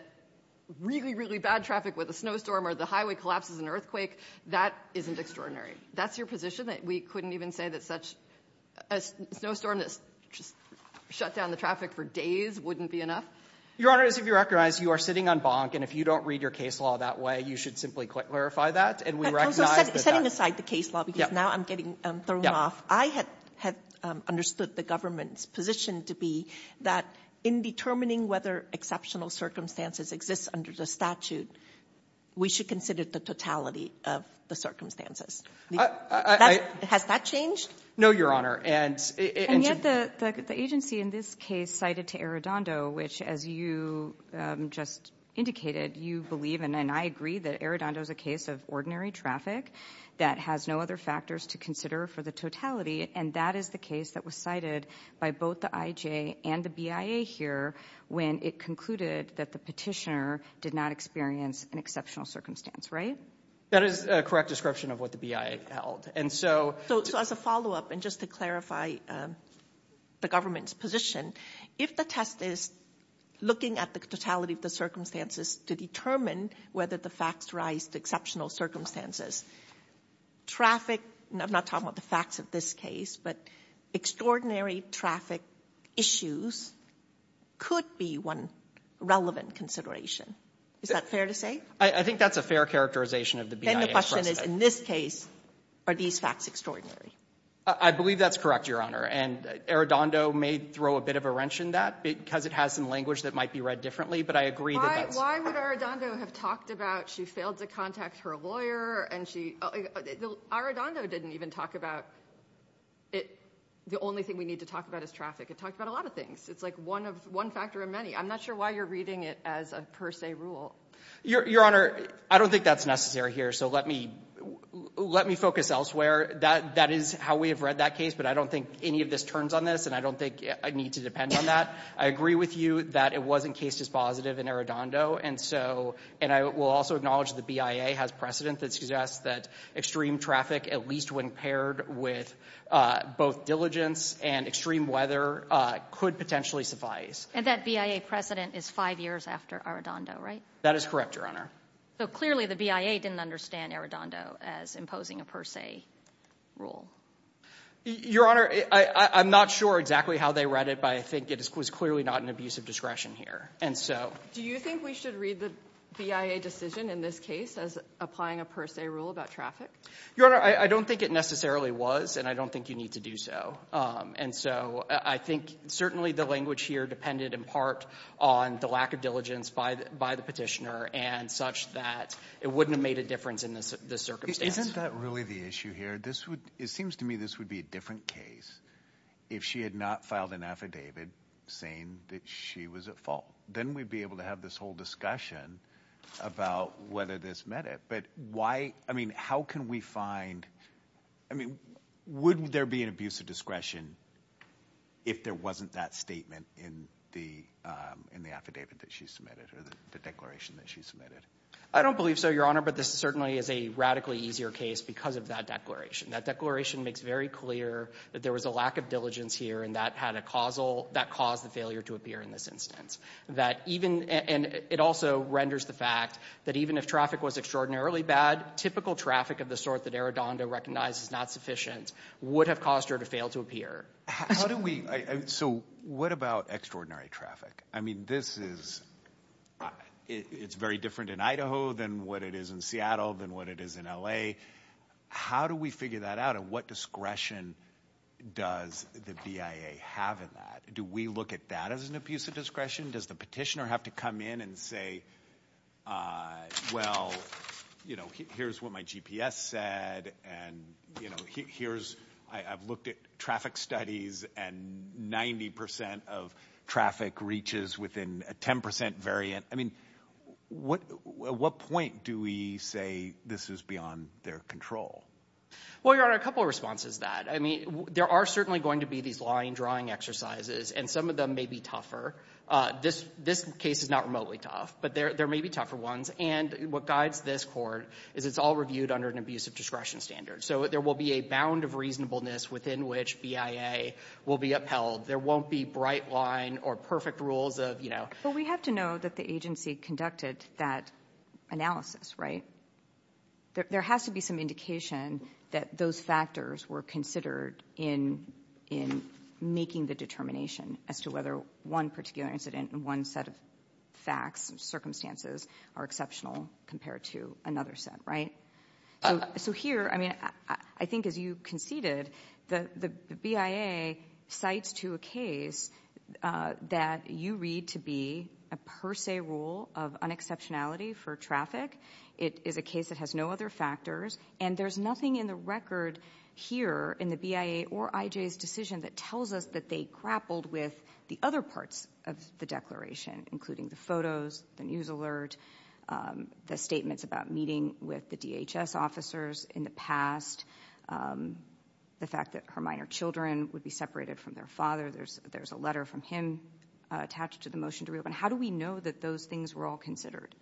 really, really bad traffic with a snowstorm or the highway collapses in an earthquake, that isn't extraordinary? That's your position, that we couldn't even say that such—a snowstorm that just shut down the traffic for days wouldn't be enough? Your Honor, as you recognize, you are sitting on bonk, and if you don't read your case law that way, you should simply clarify that, and we recognize that— Setting aside the case law, because now I'm getting thrown off. I had understood the government's position to be that in determining whether exceptional circumstances exist under the statute, we should consider the totality of the circumstances. Has that changed? No, Your Honor, and— And yet the agency in this case cited to Arradondo, which as you just indicated, you believe, and I agree, that Arradondo is a case of ordinary traffic that has no other factors to consider for the totality, and that is the case that was cited by both the IJ and the BIA here when it concluded that the petitioner did not experience an exceptional circumstance, right? That is a correct description of what the BIA held, and so— So as a follow-up, and just to clarify the government's position, if the test is looking at the totality of the circumstances to determine whether the facts rise to exceptional circumstances, traffic—I'm not talking about the facts of this case, but extraordinary traffic issues could be one relevant consideration. Is that fair to say? I think that's a fair characterization of the BIA's process. Then the question is, in this case, are these facts extraordinary? I believe that's correct, Your Honor, and Arradondo may throw a bit of a wrench in that because it has some language that might be read differently, but I agree that that's— Why would Arradondo have talked about she failed to contact her lawyer and she— Arradondo didn't even talk about the only thing we need to talk about is traffic. It talked about a lot of things. It's like one factor in many. I'm not sure why you're reading it as a per se rule. Your Honor, I don't think that's necessary here, so let me focus elsewhere. That is how we have read that case, but I don't think any of this turns on this, and I don't think I need to depend on that. I agree with you that it wasn't case dispositive in Arradondo, and so—and I will also acknowledge that the BIA has precedent that suggests that extreme traffic, at least when paired with both diligence and extreme weather, could potentially suffice. And that BIA precedent is five years after Arradondo, right? That is correct, Your Honor. So clearly the BIA didn't understand Arradondo as imposing a per se rule. Your Honor, I'm not sure exactly how they read it, but I think it was clearly not an abuse of discretion here, and so— Do you think we should read the BIA decision in this case as applying a per se rule about traffic? Your Honor, I don't think it necessarily was, and I don't think you need to do so, and so I think certainly the language here depended in part on the lack of diligence by the petitioner and such that it wouldn't have made a difference in this circumstance. Isn't that really the issue here? It seems to me this would be a different case if she had not filed an affidavit saying that she was at fault. Then we'd be able to have this whole discussion about whether this met it, but why—I mean, how can we find—I mean, would there be an abuse of discretion if there wasn't that statement in the affidavit that she submitted or the declaration that she submitted? I don't believe so, Your Honor, but this certainly is a radically easier case because of that declaration. That declaration makes very clear that there was a lack of diligence here and that caused the failure to appear in this instance. It also renders the fact that even if traffic was extraordinarily bad, typical traffic of the sort that Arradondo recognized as not sufficient would have caused her to fail to appear. How do we—so what about extraordinary traffic? I mean, this is—it's very different in Idaho than what it is in Seattle than what it is in L.A. How do we figure that out and what discretion does the BIA have in that? Do we look at that as an abuse of discretion? Does the petitioner have to come in and say, well, here's what my GPS said and, you know, here's—I've looked at traffic studies and 90% of traffic reaches within a 10% variant. I mean, at what point do we say this is beyond their control? Well, Your Honor, a couple of responses to that. I mean, there are certainly going to be these line drawing exercises, and some of them may be tougher. This case is not remotely tough, but there may be tougher ones. And what guides this court is it's all reviewed under an abuse of discretion standard. So there will be a bound of reasonableness within which BIA will be upheld. There won't be bright line or perfect rules of, you know— But we have to know that the agency conducted that analysis, right? There has to be some indication that those factors were considered in making the determination as to whether one particular incident and one set of facts and circumstances are exceptional compared to another set, right? So here, I mean, I think as you conceded, the BIA cites to a case that you read to be a per se rule of unexceptionality for traffic. It is a case that has no other factors. And there's nothing in the record here in the BIA or IJ's decision that tells us that they grappled with the other parts of the declaration, including the photos, the news alert, the statements about meeting with the DHS officers in the past, the fact that her minor children would be separated from their father. There's a letter from him attached to the motion to reopen. How do we know that those things were all considered?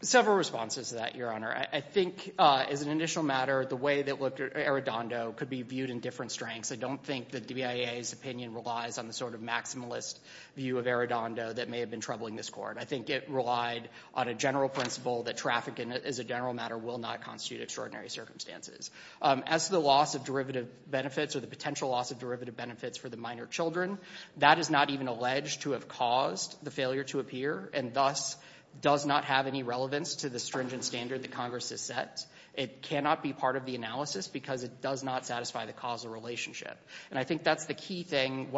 Several responses to that, Your Honor. I think as an initial matter, the way that Arradondo could be viewed in different strengths. I don't think that the BIA's opinion relies on the sort of maximalist view of Arradondo that may have been troubling this Court. I think it relied on a general principle that traffic, as a general matter, will not constitute extraordinary circumstances. As to the loss of derivative benefits or the potential loss of derivative benefits for the minor children, that is not even alleged to have caused the failure to appear and thus does not have any relevance to the stringent standard that Congress has set. It cannot be part of the analysis because it does not satisfy the causal relationship. And I think that's the key thing.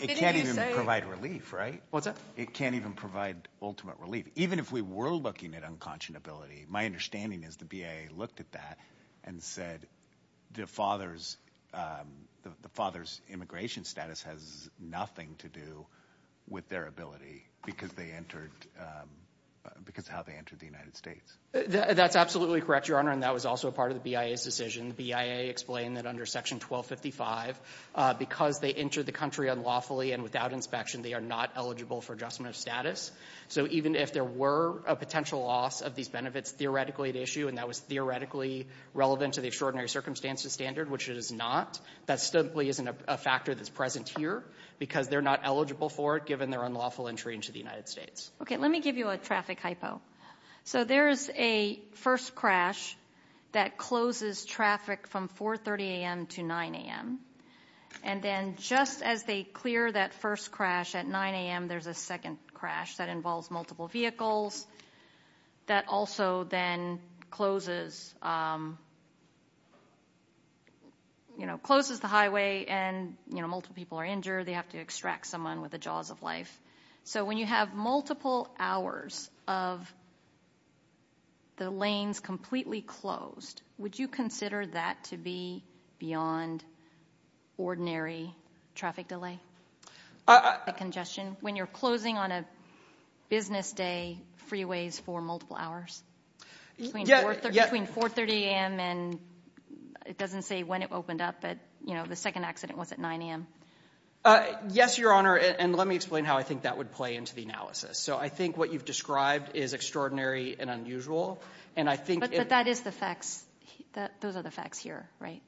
It can't even provide relief, right? What's that? It can't even provide ultimate relief. Even if we were looking at unconscionability, my understanding is the BIA looked at that and said the father's immigration status has nothing to do with their ability because how they entered the United States. That's absolutely correct, Your Honor, and that was also part of the BIA's decision. The BIA explained that under Section 1255, because they entered the country unlawfully and without inspection, they are not eligible for adjustment of status. So even if there were a potential loss of these benefits theoretically at issue and that was theoretically relevant to the extraordinary circumstances standard, which it is not, that simply isn't a factor that's present here because they're not eligible for it given their unlawful entry into the United States. Okay. Let me give you a traffic hypo. So there is a first crash that closes traffic from 4.30 a.m. to 9.00 a.m., and then just as they clear that first crash at 9.00 a.m., there's a second crash that involves multiple vehicles that also then closes the highway and multiple people are injured. They have to extract someone with the jaws of life. So when you have multiple hours of the lanes completely closed, would you consider that to be beyond ordinary traffic delay, congestion, when you're closing on a business day freeways for multiple hours between 4.30 a.m. and it doesn't say when it opened up, but, you know, the second accident was at 9.00 a.m.? Yes, Your Honor, and let me explain how I think that would play into the analysis. So I think what you've described is extraordinary and unusual. But that is the facts. Those are the facts here, right?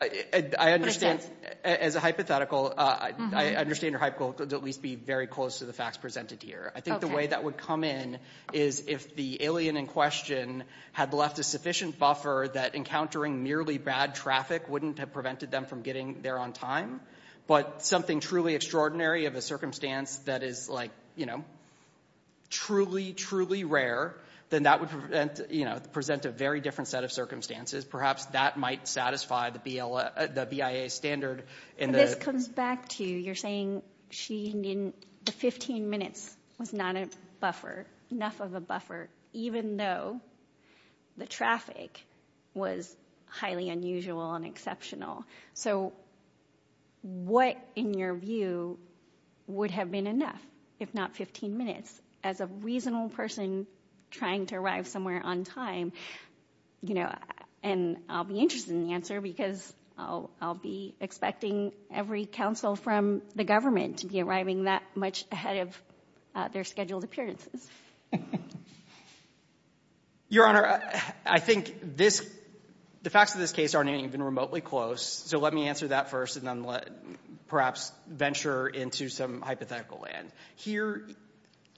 I understand, as a hypothetical, I understand your hypothetical to at least be very close to the facts presented here. I think the way that would come in is if the alien in question had left a sufficient buffer that encountering merely bad traffic wouldn't have prevented them from getting there on time, but something truly extraordinary of a circumstance that is, like, you know, truly, truly rare, then that would present a very different set of circumstances. Perhaps that might satisfy the BIA standard. And this comes back to you. You're saying the 15 minutes was not enough of a buffer, even though the traffic was highly unusual and exceptional. So what, in your view, would have been enough, if not 15 minutes, as a reasonable person trying to arrive somewhere on time? You know, and I'll be interested in the answer because I'll be expecting every counsel from the government to be arriving that much ahead of their scheduled appearances. Your Honor, I think the facts of this case aren't even remotely close, so let me answer that first and then perhaps venture into some hypothetical land. Here,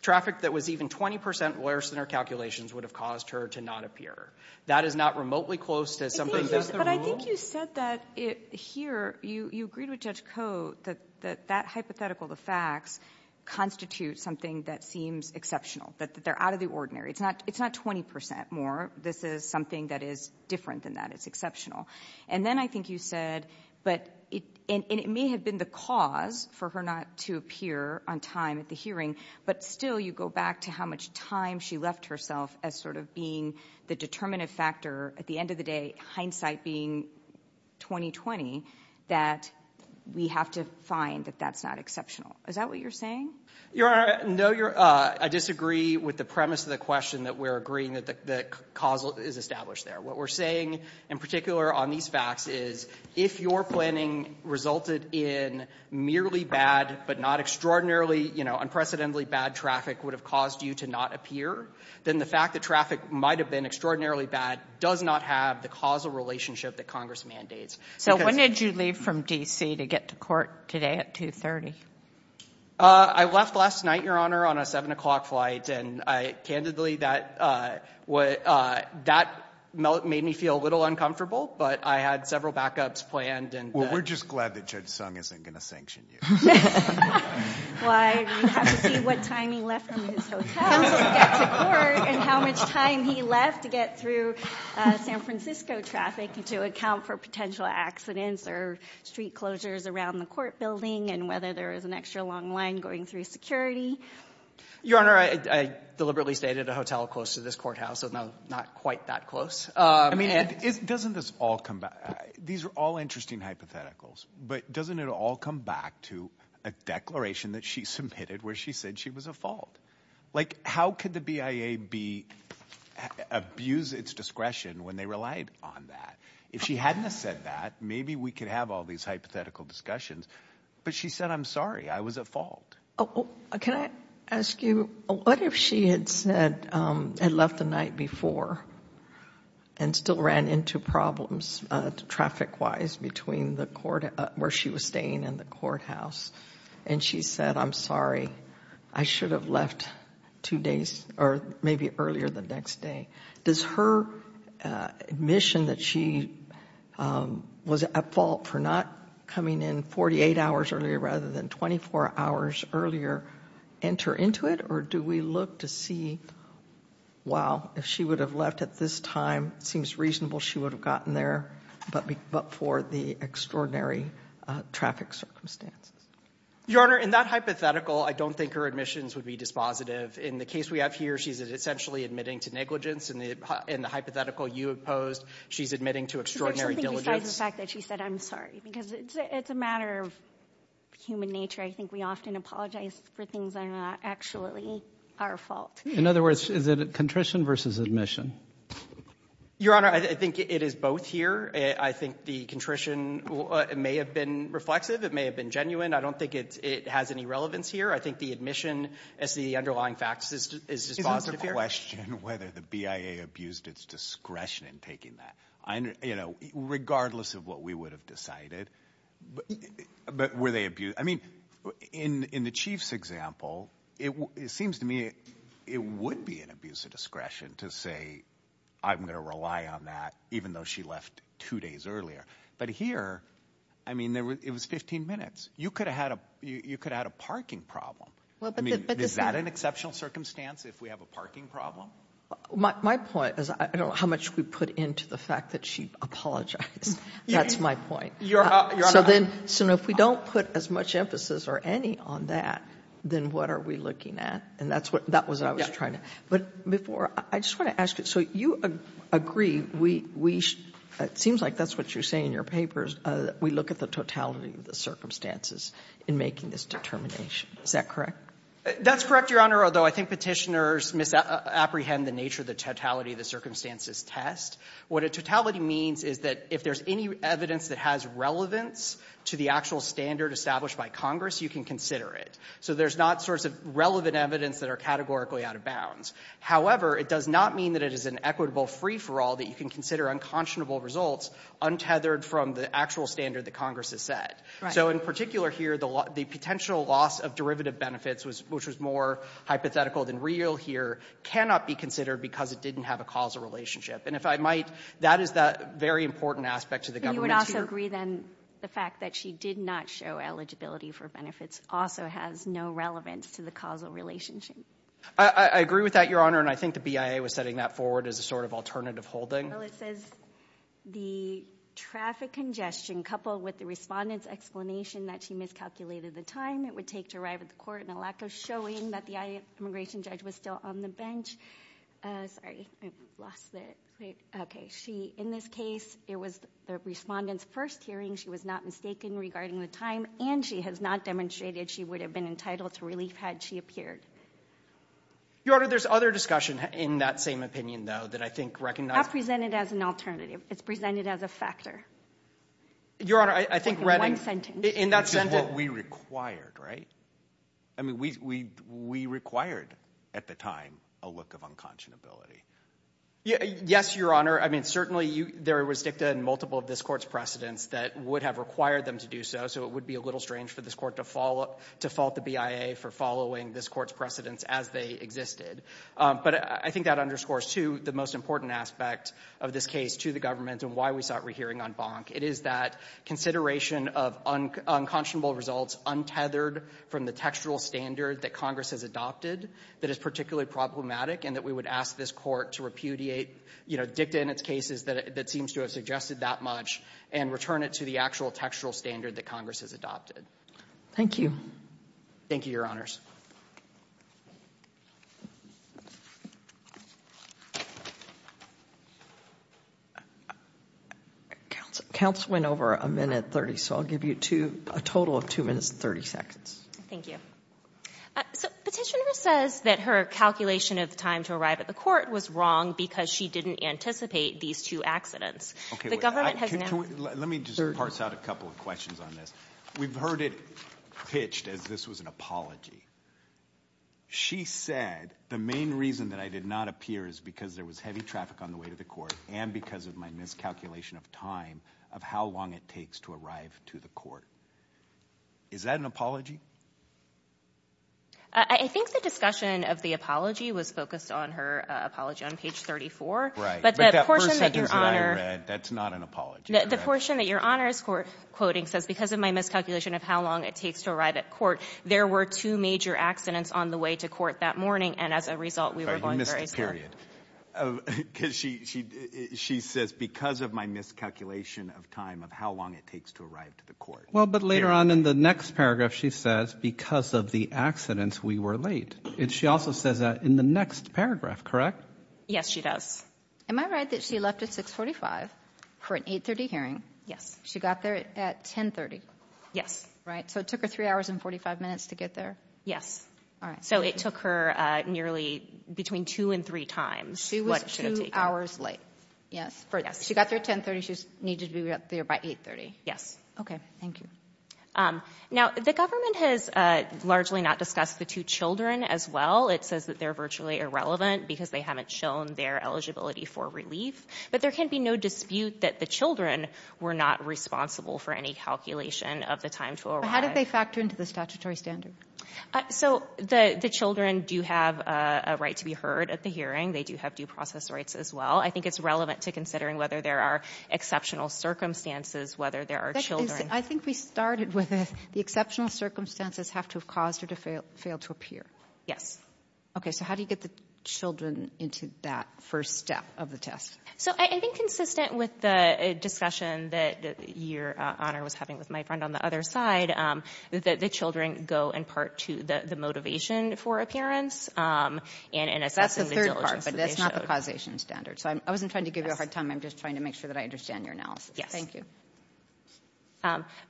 traffic that was even 20 percent worse than our calculations would have caused her to not appear. That is not remotely close to something that's the rule. But I think you said that here, you agreed with Judge Koh that that hypothetical, the facts, constitute something that seems exceptional, that they're out of the ordinary. It's not 20 percent more. This is something that is different than that. It's exceptional. And then I think you said, and it may have been the cause for her not to appear on time at the hearing, but still you go back to how much time she left herself as sort of being the determinative factor, at the end of the day, hindsight being 20-20, that we have to find that that's not exceptional. Is that what you're saying? Your Honor, no, I disagree with the premise of the question that we're agreeing that the cause is established there. What we're saying in particular on these facts is if your planning resulted in merely bad but not extraordinarily, you know, unprecedentedly bad traffic would have caused you to not appear, then the fact that traffic might have been extraordinarily bad does not have the causal relationship that Congress mandates. So when did you leave from D.C. to get to court today at 2.30? I left last night, Your Honor, on a 7 o'clock flight, and candidly that made me feel a little uncomfortable, but I had several backups planned. Well, we're just glad that Judge Sung isn't going to sanction you. Why? We have to see what time he left from his hotel to get to court and how much time he left to get through San Francisco traffic to account for potential accidents or street closures around the court building and whether there is an extra long line going through security. Your Honor, I deliberately stayed at a hotel close to this courthouse, so now not quite that close. I mean, doesn't this all come back? These are all interesting hypotheticals, but doesn't it all come back to a declaration that she submitted where she said she was at fault? Like, how could the BIA abuse its discretion when they relied on that? If she hadn't have said that, maybe we could have all these hypothetical discussions. But she said, I'm sorry, I was at fault. Can I ask you, what if she had said and left the night before and still ran into problems traffic-wise between where she was staying and the courthouse, and she said, I'm sorry, I should have left two days, or maybe earlier the next day. Does her admission that she was at fault for not coming in 48 hours earlier rather than 24 hours earlier enter into it, or do we look to see, wow, if she would have left at this time, it seems reasonable she would have gotten there, but for the extraordinary traffic circumstances? Your Honor, in that hypothetical, I don't think her admissions would be dispositive. In the case we have here, she's essentially admitting to negligence. In the hypothetical you opposed, she's admitting to extraordinary diligence. I think besides the fact that she said, I'm sorry, because it's a matter of human nature. I think we often apologize for things that are not actually our fault. In other words, is it a contrition versus admission? Your Honor, I think it is both here. I think the contrition may have been reflexive. It may have been genuine. I don't think it has any relevance here. I think the admission as to the underlying facts is dispositive here. Isn't the question whether the BIA abused its discretion in taking that, regardless of what we would have decided, but were they abused? I mean, in the Chief's example, it seems to me it would be an abuse of discretion to say, I'm going to rely on that, even though she left two days earlier. But here, I mean, it was 15 minutes. You could have had a parking problem. I mean, is that an exceptional circumstance if we have a parking problem? My point is I don't know how much we put into the fact that she apologized. That's my point. So if we don't put as much emphasis or any on that, then what are we looking at? And that was what I was trying to ask. But before, I just want to ask you, so you agree, it seems like that's what you're saying in your papers, we look at the totality of the circumstances in making this determination. Is that correct? That's correct, Your Honor, although I think Petitioners misapprehend the nature of the totality of the circumstances test. What a totality means is that if there's any evidence that has relevance to the actual standard established by Congress, you can consider it. So there's not sorts of relevant evidence that are categorically out of bounds. However, it does not mean that it is an equitable free-for-all that you can consider unconscionable results untethered from the actual standard that Congress has set. So in particular here, the potential loss of derivative benefits, which was more hypothetical than real here, cannot be considered because it didn't have a causal relationship. And if I might, that is the very important aspect to the government here. But you would also agree, then, the fact that she did not show eligibility for benefits also has no relevance to the causal relationship? I agree with that, Your Honor, and I think the BIA was setting that forward as a sort of alternative holding. Well, it says the traffic congestion coupled with the respondent's explanation that she miscalculated the time it would take to arrive at the court and a lack of showing that the immigration judge was still on the bench. Sorry. I lost it. Okay. She, in this case, it was the respondent's first hearing. She was not mistaken regarding the time, and she has not demonstrated she would have been entitled to relief had she appeared. Your Honor, there's other discussion in that same opinion, though, that I think recognizes – Not presented as an alternative. It's presented as a factor. Your Honor, I think Redding – In one sentence. In that sentence – It's just what we required, right? I mean, we required at the time a look of unconscionability. Yes, Your Honor. I mean, certainly there was dicta in multiple of this court's precedents that would have required them to do so, so it would be a little strange for this court to fault the BIA for following this court's precedents as they existed. But I think that underscores, too, the most important aspect of this case to the government and why we sought rehearing on Bonk. It is that consideration of unconscionable results untethered from the textual standard that Congress has adopted that is particularly problematic and that we would ask this court to repudiate dicta in its cases that seems to have suggested that much and return it to the actual textual standard that Congress has adopted. Thank you. Thank you, Your Honors. Counsel went over a minute 30, so I'll give you a total of 2 minutes and 30 seconds. Thank you. So Petitioner says that her calculation of time to arrive at the court was wrong because she didn't anticipate these two accidents. The government has now – Let me just parse out a couple of questions on this. We've heard it pitched as this was an apology. She said the main reason that I did not appear is because there was heavy traffic on the way to the court and because of my miscalculation of time of how long it takes to arrive to the court. Is that an apology? I think the discussion of the apology was focused on her apology on page 34. But that first sentence that I read, that's not an apology. The portion that Your Honors is quoting says, because of my miscalculation of how long it takes to arrive at court, there were two major accidents on the way to court that morning, and as a result we were going very slow. You missed a period. She says, because of my miscalculation of time of how long it takes to arrive to the court. Well, but later on in the next paragraph she says, because of the accidents we were late. She also says that in the next paragraph, correct? Yes, she does. Am I right that she left at 6.45 for an 8.30 hearing? She got there at 10.30? Yes. Right, so it took her three hours and 45 minutes to get there? Yes. All right. So it took her nearly between two and three times. She was two hours late. Yes. She got there at 10.30. She needed to be up there by 8.30. Yes. Okay, thank you. Now, the government has largely not discussed the two children as well. It says that they're virtually irrelevant because they haven't shown their eligibility for relief, but there can be no dispute that the children were not responsible for any calculation of the time to arrive. But how did they factor into the statutory standard? So the children do have a right to be heard at the hearing. They do have due process rights as well. I think it's relevant to considering whether there are exceptional circumstances, whether there are children. I think we started with the exceptional circumstances have to have caused her to fail to appear. Yes. Okay, so how do you get the children into that first step of the test? So I think consistent with the discussion that your honor was having with my friend on the other side, that the children go in part to the motivation for appearance and assessing the diligence that they showed. That's the third part, but that's not the causation standard. So I wasn't trying to give you a hard time. I'm just trying to make sure that I understand your analysis. Yes. Thank you.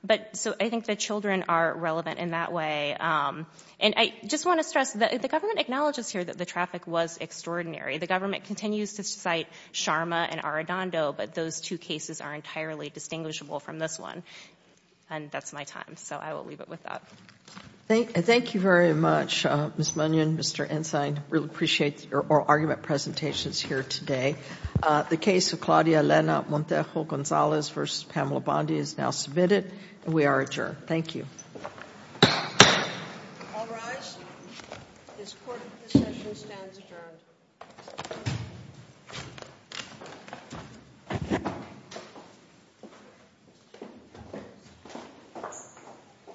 But so I think the children are relevant in that way. And I just want to stress that the government acknowledges here that the traffic was extraordinary. The government continues to cite Sharma and Arradondo, but those two cases are entirely distinguishable from this one. And that's my time, so I will leave it with that. Thank you very much, Ms. Munion, Mr. Ensign. I really appreciate your oral argument presentations here today. The case of Claudia Elena Montejo Gonzalez v. Pamela Bondi is now submitted, and we are adjourned. Thank you. All rise. This court's session stands adjourned.